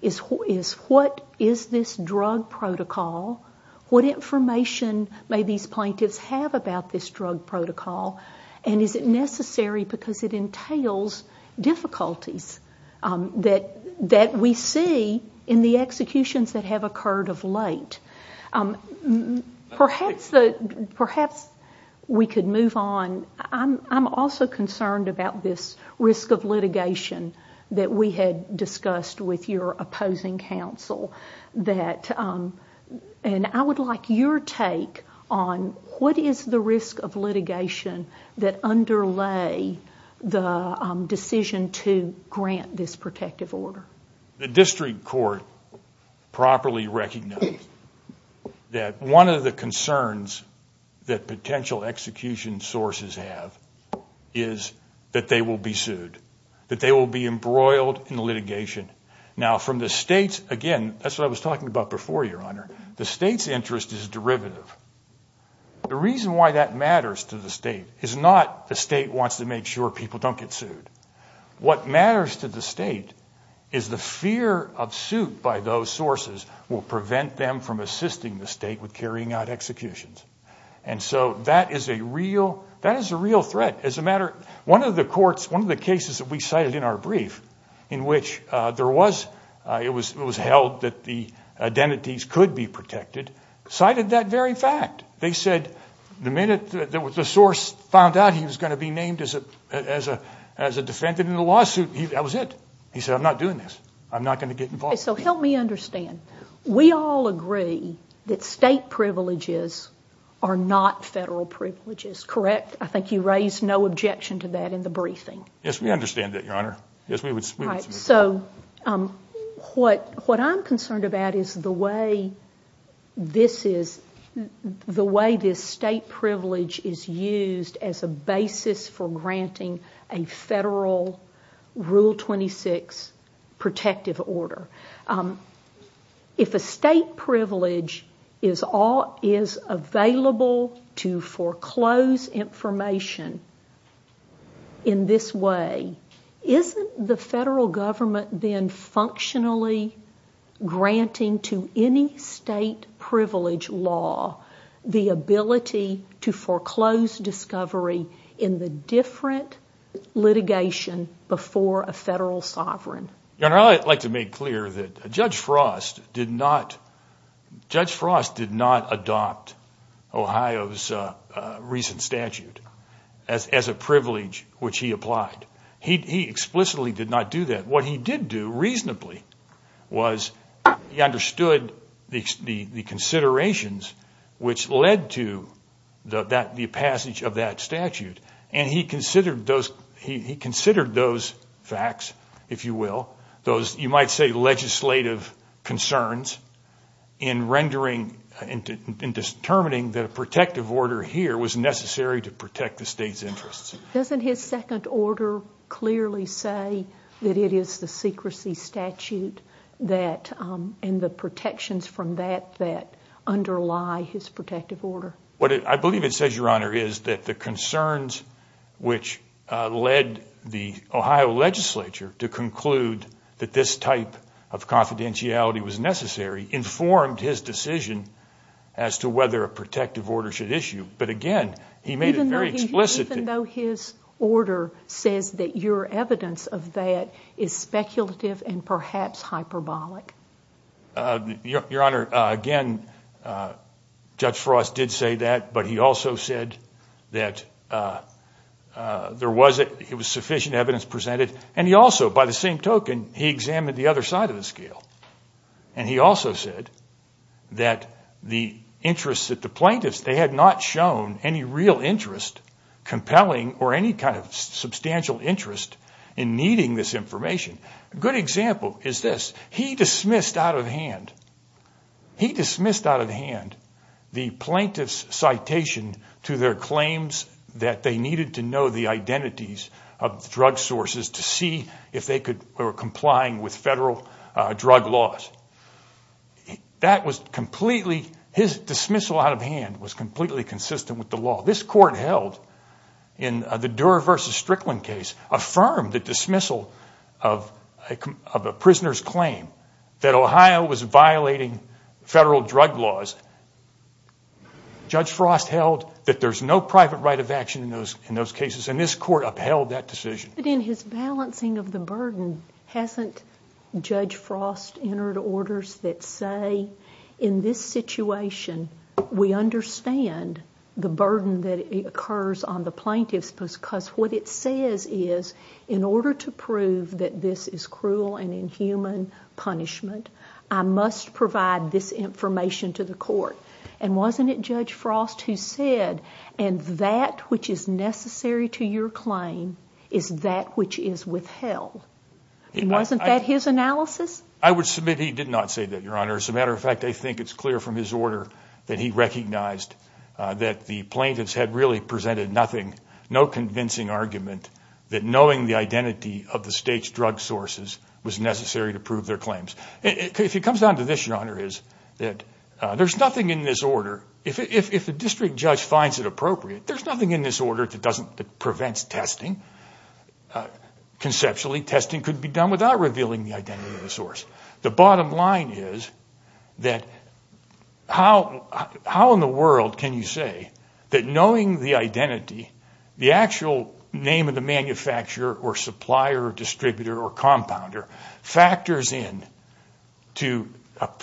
is what is this drug protocol, what information may these plaintiffs have about this drug protocol, and is it necessary because it entails difficulties that we see in the executions that have occurred of late. Perhaps we could move on. I'm also concerned about this risk of litigation that we had discussed with your opposing counsel. And I would like your take on what is the risk of litigation that underlay the decision to grant this protective order. The district court properly recognized that one of the concerns that potential execution sources have is that they will be sued, that they will be embroiled in litigation. Now from the state's, again, that's what I was talking about before, Your Honor. The state's interest is derivative. The reason why that matters to the state is not the state wants to make sure people don't get sued. What matters to the state is the fear of suit by those sources will prevent them from assisting the state with carrying out executions. And so that is a real threat. One of the cases that we cited in our brief in which it was held that the identities could be protected, cited that very fact. They said the minute the source found out he was going to be named as a defendant in the lawsuit, that was it. He said, I'm not doing this. I'm not going to get involved. So help me understand. We all agree that state privileges are not federal privileges, correct? I think you raised no objection to that in the briefing. Yes, we understand that, Your Honor. So what I'm concerned about is the way this state privilege is used as a basis for granting a federal Rule 26 protective order. If a state privilege is available to foreclose information in this way, isn't the federal government then functionally granting to any state privilege law the ability to foreclose discovery in the different litigation before a federal sovereign? Your Honor, I'd like to make clear that Judge Frost did not adopt Ohio's recent statute as a privilege which he applied. He explicitly did not do that. But what he did do reasonably was he understood the considerations which led to the passage of that statute. And he considered those facts, if you will, those you might say legislative concerns, in determining that a protective order here was necessary to protect the state's interests. Doesn't his second order clearly say that it is the secrecy statute and the protections from that that underlie his protective order? What I believe it says, Your Honor, is that the concerns which led the Ohio legislature to conclude that this type of confidentiality was necessary informed his decision as to whether a protective order should issue. Even though his order says that your evidence of that is speculative and perhaps hyperbolic? Your Honor, again, Judge Frost did say that, but he also said that there was sufficient evidence presented. And he also, by the same token, he examined the other side of the scale. And he also said that the interests of the plaintiffs, they had not shown any real interest, compelling or any kind of substantial interest in needing this information. A good example is this. He dismissed out of hand the plaintiff's citation to their claims that they needed to know the identities of drug sources to see if they were complying with federal drug laws. That was completely, his dismissal out of hand was completely consistent with the law. This court held, in the Durer v. Strickland case, affirmed the dismissal of a prisoner's claim that Ohio was violating federal drug laws. Judge Frost held that there's no private right of action in those cases, and this court upheld that decision. But in his balancing of the burden, hasn't Judge Frost entered orders that say, in this situation, we understand the burden that occurs on the plaintiff because what it says is, in order to prove that this is cruel and inhuman punishment, I must provide this information to the court. And wasn't it Judge Frost who said, and that which is necessary to your claim is that which is withheld. Wasn't that his analysis? I would submit he did not say that, Your Honor. As a matter of fact, I think it's clear from his order that he recognized that the plaintiffs had really presented nothing, no convincing argument that knowing the identity of the state's drug sources was necessary to prove their claims. If he comes down to this, Your Honor, there's nothing in this order, if the district judge finds it appropriate, there's nothing in this order that prevents testing. Conceptually, testing could be done without revealing the identity of the source. The bottom line is that how in the world can you say that knowing the identity, the actual name of the manufacturer or supplier or distributor or compounder, factors in to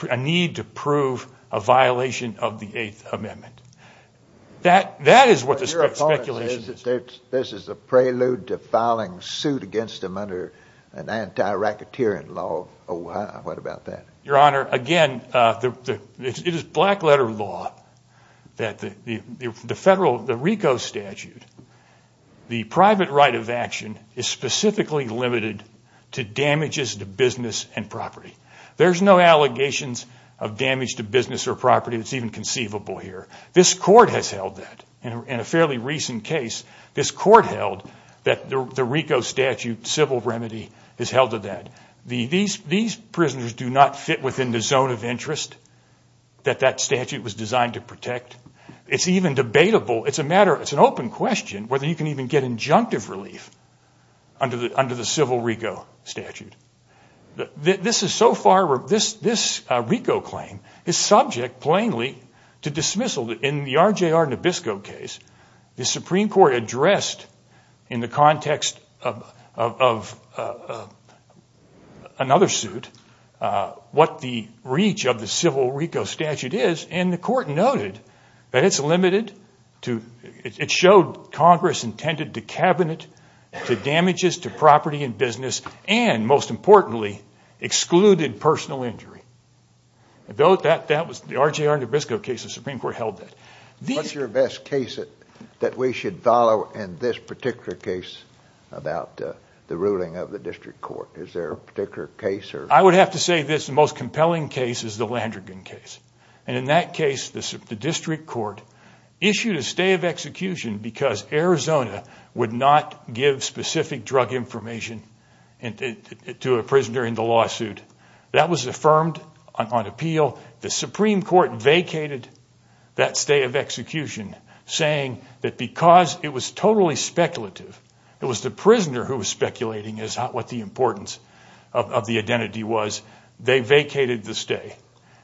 a need to prove a violation of the Eighth Amendment. That is what the statute speculates. Your Honor, this is a prelude to filing suit against him under an anti-racketeering law. What about that? Your Honor, again, it is black letter law that the federal, the RICO statute, the private right of action is specifically limited to damages to business and property. There's no allegations of damage to business or property that's even conceivable here. This court has held that. In a fairly recent case, this court held that the RICO statute civil remedy has held to that. These prisoners do not fit within the zone of interest that that statute was designed to protect. It's even debatable. It's an open question whether you can even get injunctive relief under the civil RICO statute. This RICO claim is subject plainly to dismissal. In the RJR Nabisco case, the Supreme Court addressed in the context of another suit what the reach of the civil RICO statute is, and the court noted that it's limited to, it showed Congress intended to cabinet the damages to property and business and, most importantly, excluded personal injury. The RJR Nabisco case, the Supreme Court held that. What's your best case that we should follow in this particular case about the ruling of the district court? Is there a particular case? I would have to say this most compelling case is the Landrigan case. In that case, the district court issued a stay of execution because Arizona would not give specific drug information to a prisoner in the lawsuit. That was affirmed on appeal. The Supreme Court vacated that stay of execution saying that because it was totally speculative, it was the prisoner who was speculating, not what the importance of the identity was, they vacated the stay.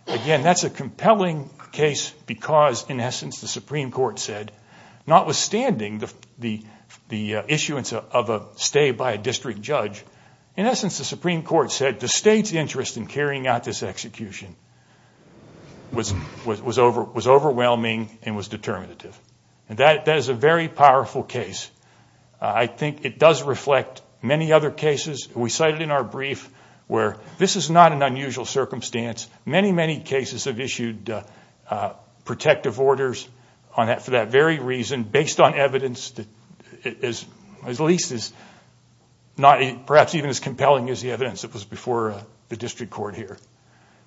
Again, that's a compelling case because, in essence, the Supreme Court said, notwithstanding the issuance of a stay by a district judge, in essence, the Supreme Court said the state's interest in carrying out this execution was overwhelming and was determinative. That is a very powerful case. I think it does reflect many other cases. We cited in our brief where this is not an unusual circumstance. Many, many cases have issued protective orders for that very reason based on evidence that at least is not perhaps even as compelling as the evidence that was before the district court here.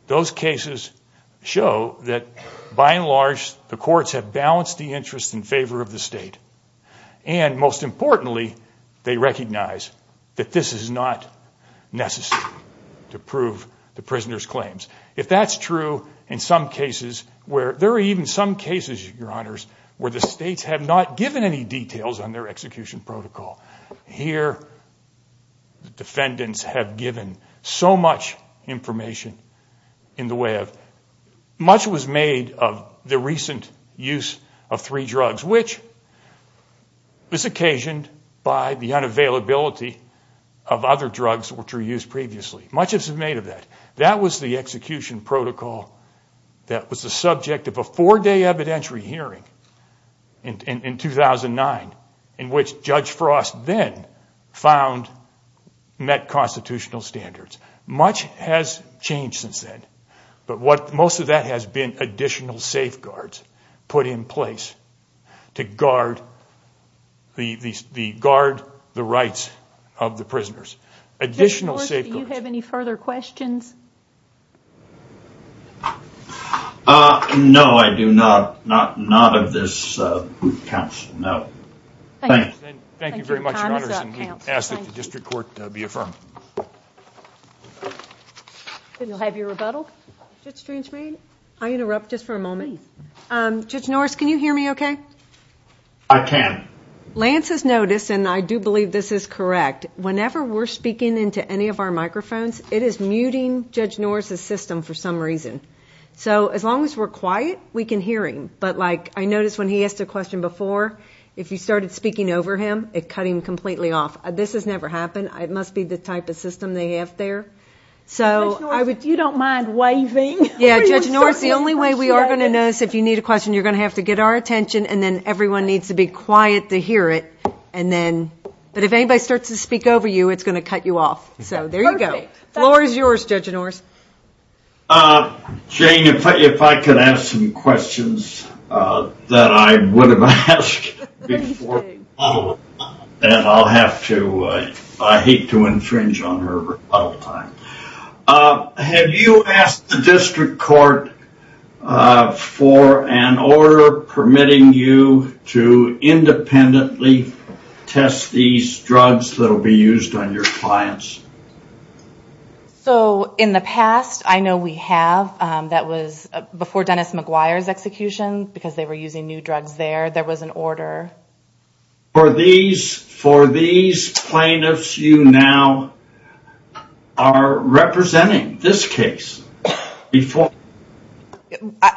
Those cases show that, by and large, the courts have balanced the interest in favor of the state and, most importantly, they recognize that this is not necessary to prove the prisoner's claims. If that's true in some cases where there are even some cases, Your Honors, where the states have not given any details on their execution protocol, here the defendants have given so much information in the way of, much was made of the recent use of three drugs, which was occasioned by the unavailability of other drugs which were used previously. Much is made of that. That was the execution protocol that was the subject of a four-day evidentiary hearing in 2009 in which Judge Frost then found met constitutional standards. Much has changed since then, but most of that has been additional safeguards put in place Judge Norris, do you have any further questions? No, I do not, not of this group counsel, no. Thank you. Thank you very much, Your Honors, and we ask that the district court be affirmed. Then we'll have your rebuttal. Judge Stringsmead, I'll interrupt just for a moment. Judge Norris, can you hear me okay? I can. Lance has noticed, and I do believe this is correct, whenever we're speaking into any of our microphones, it is muting Judge Norris' system for some reason. So as long as we're quiet, we can hear him. But, like, I noticed when he asked a question before, if you started speaking over him, it cut him completely off. This has never happened. It must be the type of system they have there. Judge Norris, if you don't mind waving. Yeah, Judge Norris, the only way we are going to know is if you need a question, you're going to have to get our attention, and then everyone needs to be quiet to hear it. But if anybody starts to speak over you, it's going to cut you off. So there you go. The floor is yours, Judge Norris. Jane, if I could ask some questions that I would have asked before the rebuttal, and I'll have to, I hate to infringe on her rebuttal time. Have you asked the district court for an order permitting you to independently test these drugs that will be used on your clients? So in the past, I know we have. That was before Dennis McGuire's execution, because they were using new drugs there, there was an order. For these plaintiffs, you now are representing this case before.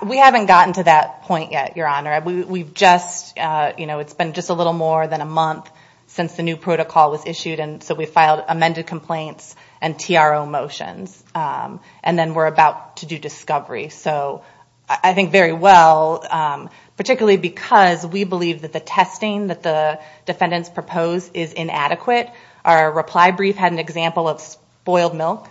We haven't gotten to that point yet, Your Honor. We've just, you know, it's been just a little more than a month since the new protocol was issued, and so we filed amended complaints and TRO motions, and then we're about to do discovery. So I think very well, particularly because we believe that the testing that the defendants proposed is inadequate. Our reply brief had an example of spoiled milk.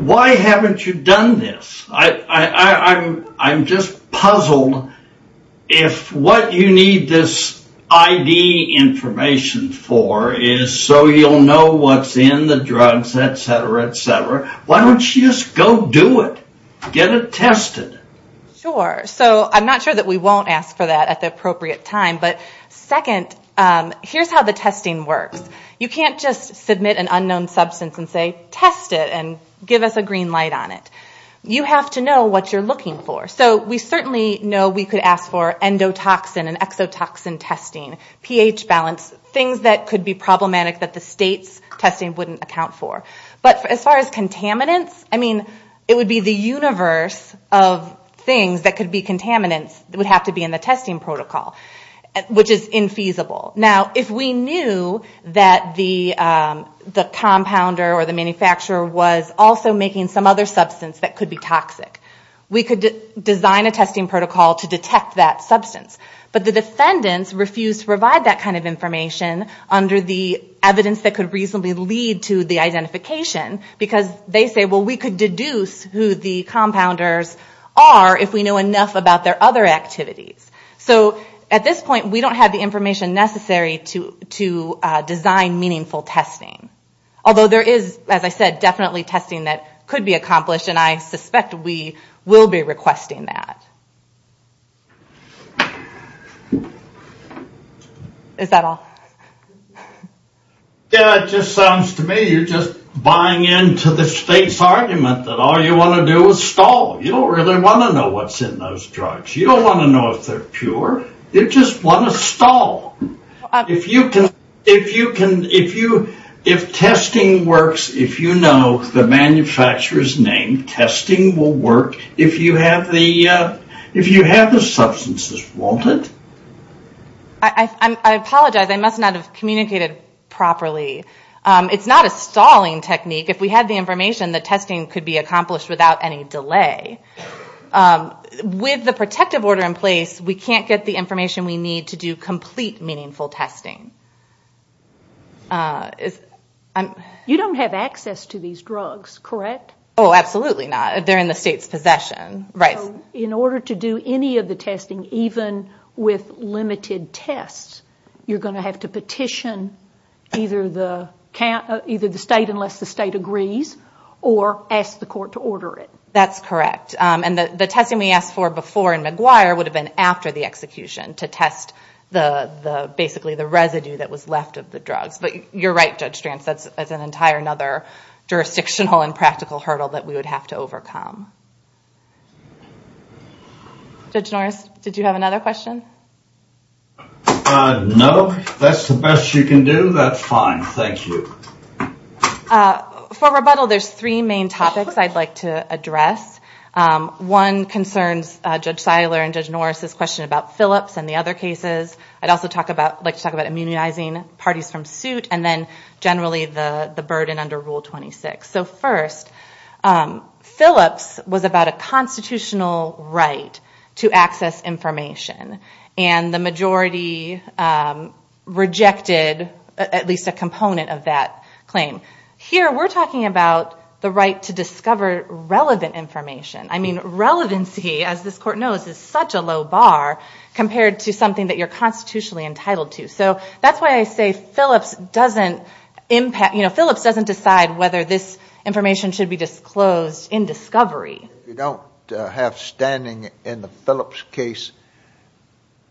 Why haven't you done this? I'm just puzzled if what you need this ID information for is so you'll know what's in the drugs, et cetera, et cetera. Why don't you just go do it? Get it tested. Sure. So I'm not sure that we won't ask for that at the appropriate time, but second, here's how the testing works. You can't just submit an unknown substance and say, test it and give us a green light on it. You have to know what you're looking for. So we certainly know we could ask for endotoxin and exotoxin testing, pH balance, things that could be problematic that the state's testing wouldn't account for. But as far as contaminants, I mean, it would be the universe of things that could be contaminants would have to be in the testing protocol, which is infeasible. Now, if we knew that the compounder or the manufacturer was also making some other substance that could be toxic, we could design a testing protocol to detect that substance. But the defendants refused to provide that kind of information under the evidence that could reasonably lead to the identification because they say, well, we could deduce who the compounders are if we know enough about their other activities. So at this point, we don't have the information necessary to design meaningful testing, although there is, as I said, definitely testing that could be accomplished, and I suspect we will be requesting that. Is that all? Yeah, it just sounds to me you're just buying into the space argument that all you want to do is stall. You don't really want to know what's in those drugs. You don't want to know if they're pure. You just want to stall. If you can, if you, if testing works, if you know the manufacturer's name, testing will work if you have the, if you have the substances, won't it? I apologize. I must not have communicated properly. It's not a stalling technique. If we had the information, the testing could be accomplished without any delay. With the protective order in place, we can't get the information we need to do complete meaningful testing. You don't have access to these drugs, correct? Oh, absolutely not. They're in the state's possession, right. So in order to do any of the testing, even with limited tests, you're going to have to petition either the state, unless the state agrees, or ask the court to order it. That's correct. And the testing we asked for before in McGuire would have been after the execution to test basically the residue that was left of the drug. You're right, Judge Strantz. That's an entire other jurisdictional and practical hurdle that we would have to overcome. Judge Norris, did you have another question? No. If that's the best you can do, that's fine. Thank you. For rebuttal, there's three main topics I'd like to address. One concerns Judge Feiler and Judge Norris' question about Philips and the other cases. I'd also like to talk about immunizing parties from suit and then generally the burden under Rule 26. So first, Philips was about a constitutional right to access information, and the majority rejected at least a component of that claim. Here we're talking about the right to discover relevant information. I mean, relevancy, as this court knows, is such a low bar compared to something that you're constitutionally entitled to. So that's why I say Philips doesn't decide whether this information should be disclosed in discovery. If you don't have standing in the Philips case,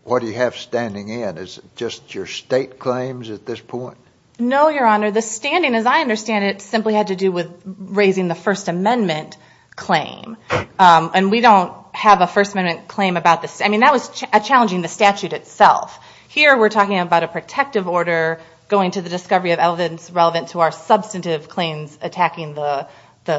what do you have standing in? Is it just your state claims at this point? No, Your Honor. Your Honor, the standing, as I understand it, simply had to do with raising the First Amendment claim. And we don't have a First Amendment claim about this. I mean, that was challenging the statute itself. Here we're talking about a protective order going to the discovery of evidence relevant to our substantive claims attacking the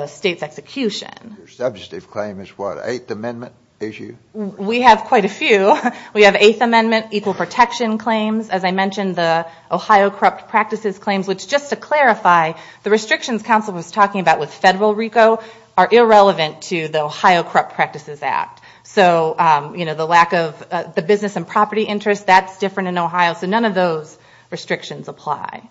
state's execution. Your substantive claim is what, an Eighth Amendment issue? We have quite a few. We have Eighth Amendment equal protection claims. As I mentioned, the Ohio Corrupt Practices Claims, which, just to clarify, the restrictions counsel was talking about with federal RICO are irrelevant to the Ohio Corrupt Practices Act. So, you know, the lack of the business and property interest, that's different in Ohio. So none of those restrictions apply.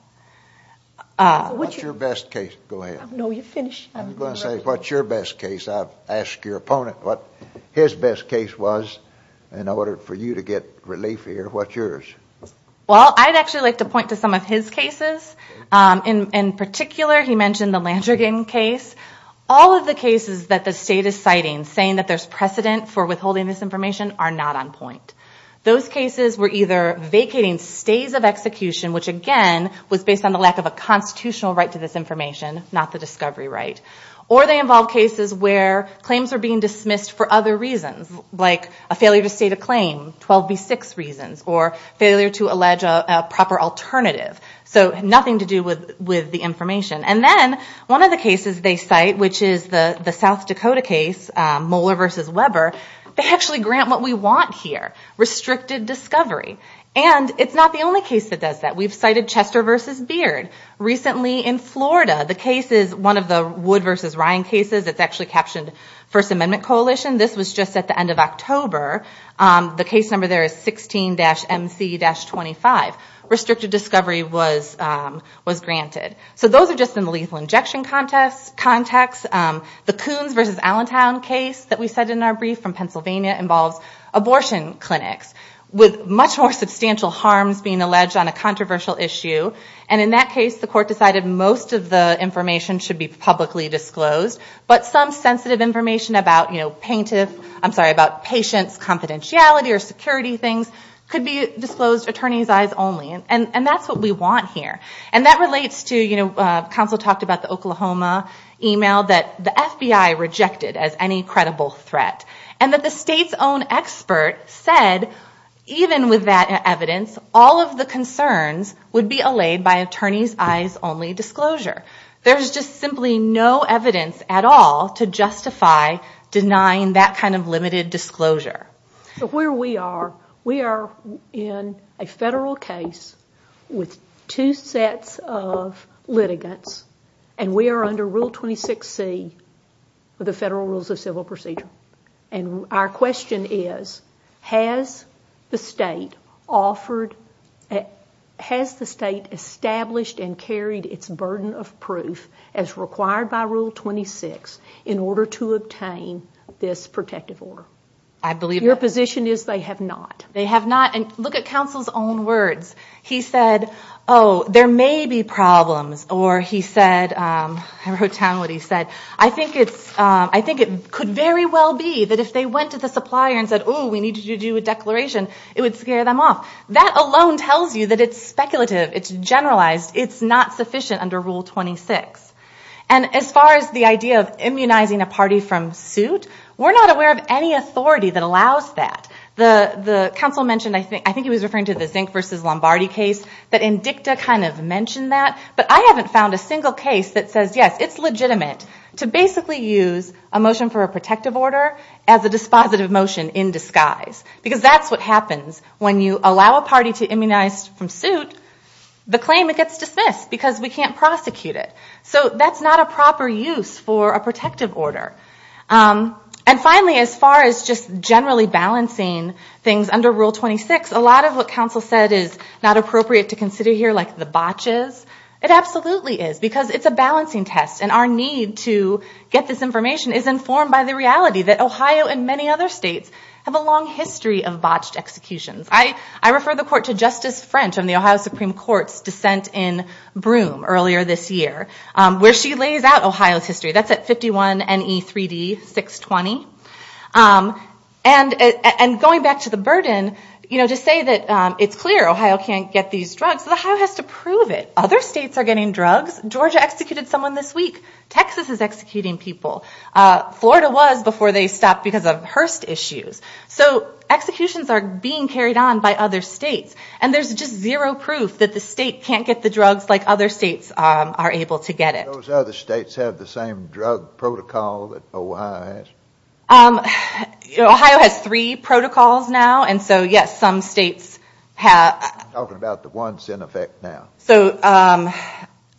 What's your best case? Go ahead. No, you finish. What's your best case? I've asked your opponent what his best case was in order for you to get relief here. What's yours? Well, I'd actually like to point to some of his cases. In particular, he mentioned the Langergan case. All of the cases that the state is citing, saying that there's precedent for withholding this information, are not on point. Those cases were either vacating states of execution, which, again, was based on the lack of a constitutional right to this information, not the discovery right, or they involved cases where claims were being dismissed for other reasons, like a failure to state a claim, 12B6 reasons, or failure to allege a proper alternative. So nothing to do with the information. And then one of the cases they cite, which is the South Dakota case, Mueller v. Weber, they actually grant what we want here, restricted discovery. And it's not the only case that does that. We've cited Chester v. Beard. Recently in Florida, the case is one of the Wood v. Ryan cases. It's actually captioned First Amendment Coalition. This was just at the end of October. The case number there is 16-MC-25. Restricted discovery was granted. So those are just in the lethal injection context. The Coons v. Allentown case that we cited in our brief from Pennsylvania involved abortion clinics with much more substantial harm being alleged on a controversial issue. And in that case, the court decided most of the information should be publicly disclosed, but some sensitive information about patients' confidentiality or security things could be disclosed attorney's eyes only. And that's what we want here. And that relates to Council talked about the Oklahoma email that the FBI rejected as any credible threat. And that the state's own expert said, even with that evidence, all of the concerns would be allayed by attorney's eyes only disclosure. There's just simply no evidence at all to justify denying that kind of limited disclosure. So where we are, we are in a federal case with two sets of litigants, and we are under Rule 26C of the Federal Rules of Civil Procedure. And our question is, has the state established and carried its burden of proof as required by Rule 26 in order to obtain this protective order? Your position is they have not. They have not. And look at Council's own words. He said, oh, there may be problems. Or he said, I wrote down what he said, I think it could very well be that if they went to the supplier and said, oh, we need you to do a declaration, it would scare them off. That alone tells you that it's speculative. It's generalized. It's not sufficient under Rule 26. And as far as the idea of immunizing a party from suit, we're not aware of any authority that allows that. The Council mentioned, I think he was referring to the Zink versus Lombardi case, but INDICTA kind of mentioned that. But I haven't found a single case that says, yes, it's legitimate to basically use a motion for a protective order as a dispositive motion in disguise, because that's what happens when you allow a party to immunize from suit the claim that gets dismissed because we can't prosecute it. So that's not a proper use for a protective order. And finally, as far as just generally balancing things under Rule 26, a lot of what Council said is not appropriate to consider here like the botches. It absolutely is, because it's a balancing test, and our need to get this information is informed by the reality that Ohio and many other states have a long history of botched executions. I refer the Court to Justice French on the Ohio Supreme Court's dissent in Broome earlier this year, where she lays out Ohio's history. That's at 51 NE 3D 620. And going back to the burden, to say that it's clear Ohio can't get these drugs, but Ohio has to prove it. Other states are getting drugs. Georgia executed someone this week. Texas is executing people. Florida was before they stopped because of Hearst issues. So executions are being carried on by other states, and there's just zero proof that the state can't get the drugs like other states are able to get it. Do those other states have the same drug protocol that Ohio has? Ohio has three protocols now, and so, yes, some states have. I'm talking about the ones in effect now. So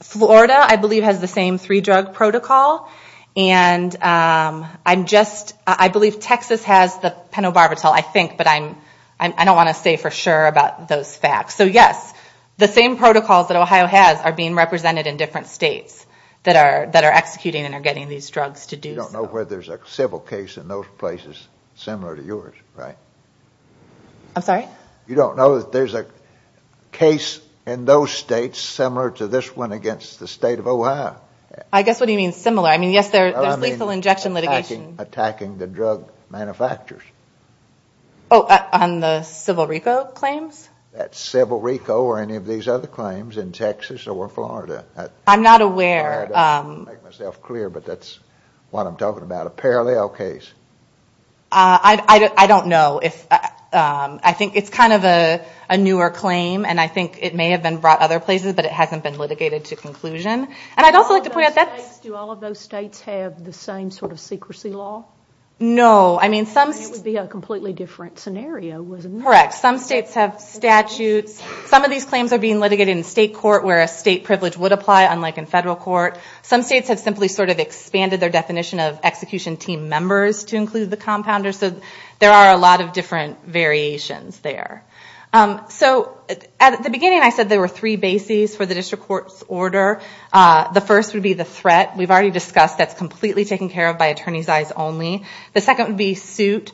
Florida, I believe, has the same three-drug protocol, and I believe Texas has the penobarbital, I think, but I don't want to say for sure about those facts. So, yes, the same protocols that Ohio has are being represented in different states that are executing and are getting these drugs to do. You don't know whether there's a civil case in those places similar to yours, right? I'm sorry? You don't know that there's a case in those states similar to this one against the state of Ohio? I guess what you mean, similar. I mean, yes, there's lethal injection litigation. Oh, I mean attacking the drug manufacturers. Oh, on the Civil Rico claims? That's Civil Rico or any of these other claims in Texas or Florida. I'm not aware. I'm trying to make myself clear, but that's what I'm talking about, a parallel case. I don't know. I think it's kind of a newer claim, and I think it may have been brought other places, but it hasn't been litigated to conclusion. And I'd also like to point out that- Do all of those states have the same sort of secrecy law? I mean, some- It would be a completely different scenario, wouldn't it? Correct. Some states have statutes. Some of these claims are being litigated in state court where a state privilege would apply, unlike in federal court. Some states have simply sort of expanded their definition of execution team members to include the compounders. So there are a lot of different variations there. So at the beginning, I said there were three bases for the district court's order. The first would be the threat. We've already discussed that's completely taken care of by attorneys' eyes only. The second would be suit.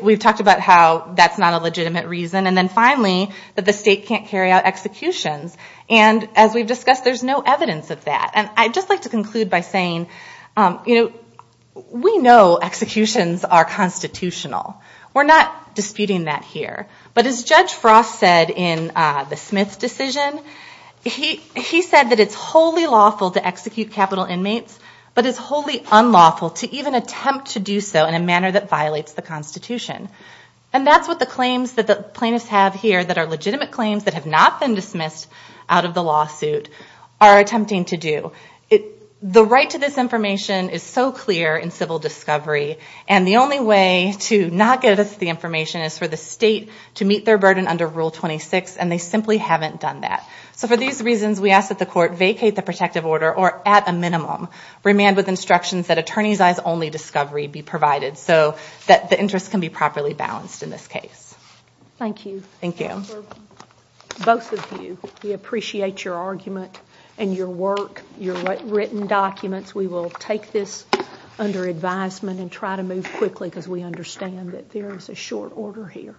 We've talked about how that's not a legitimate reason. And then finally, that the state can't carry out executions. And as we've discussed, there's no evidence of that. And I'd just like to conclude by saying we know executions are constitutional. We're not disputing that here. But as Judge Frost said in the Smith decision, he said that it's wholly lawful to execute capital inmates, but it's wholly unlawful to even attempt to do so in a manner that violates the Constitution. And that's what the claims that the plaintiffs have here that are legitimate claims that have not been dismissed out of the lawsuit are attempting to do. The right to this information is so clear in civil discovery, and the only way to not give us the information is for the state to meet their burden under Rule 26, and they simply haven't done that. So for these reasons, we ask that the court vacate the protective order or, at a minimum, remand with instructions that attorneys' eyes only discovery be provided so that the interest can be properly balanced in this case. Thank you. Thank you. You're welcome. Both of you, we appreciate your argument and your work, your written documents. We will take this under advisement and try to move quickly because we understand that there is a short order here.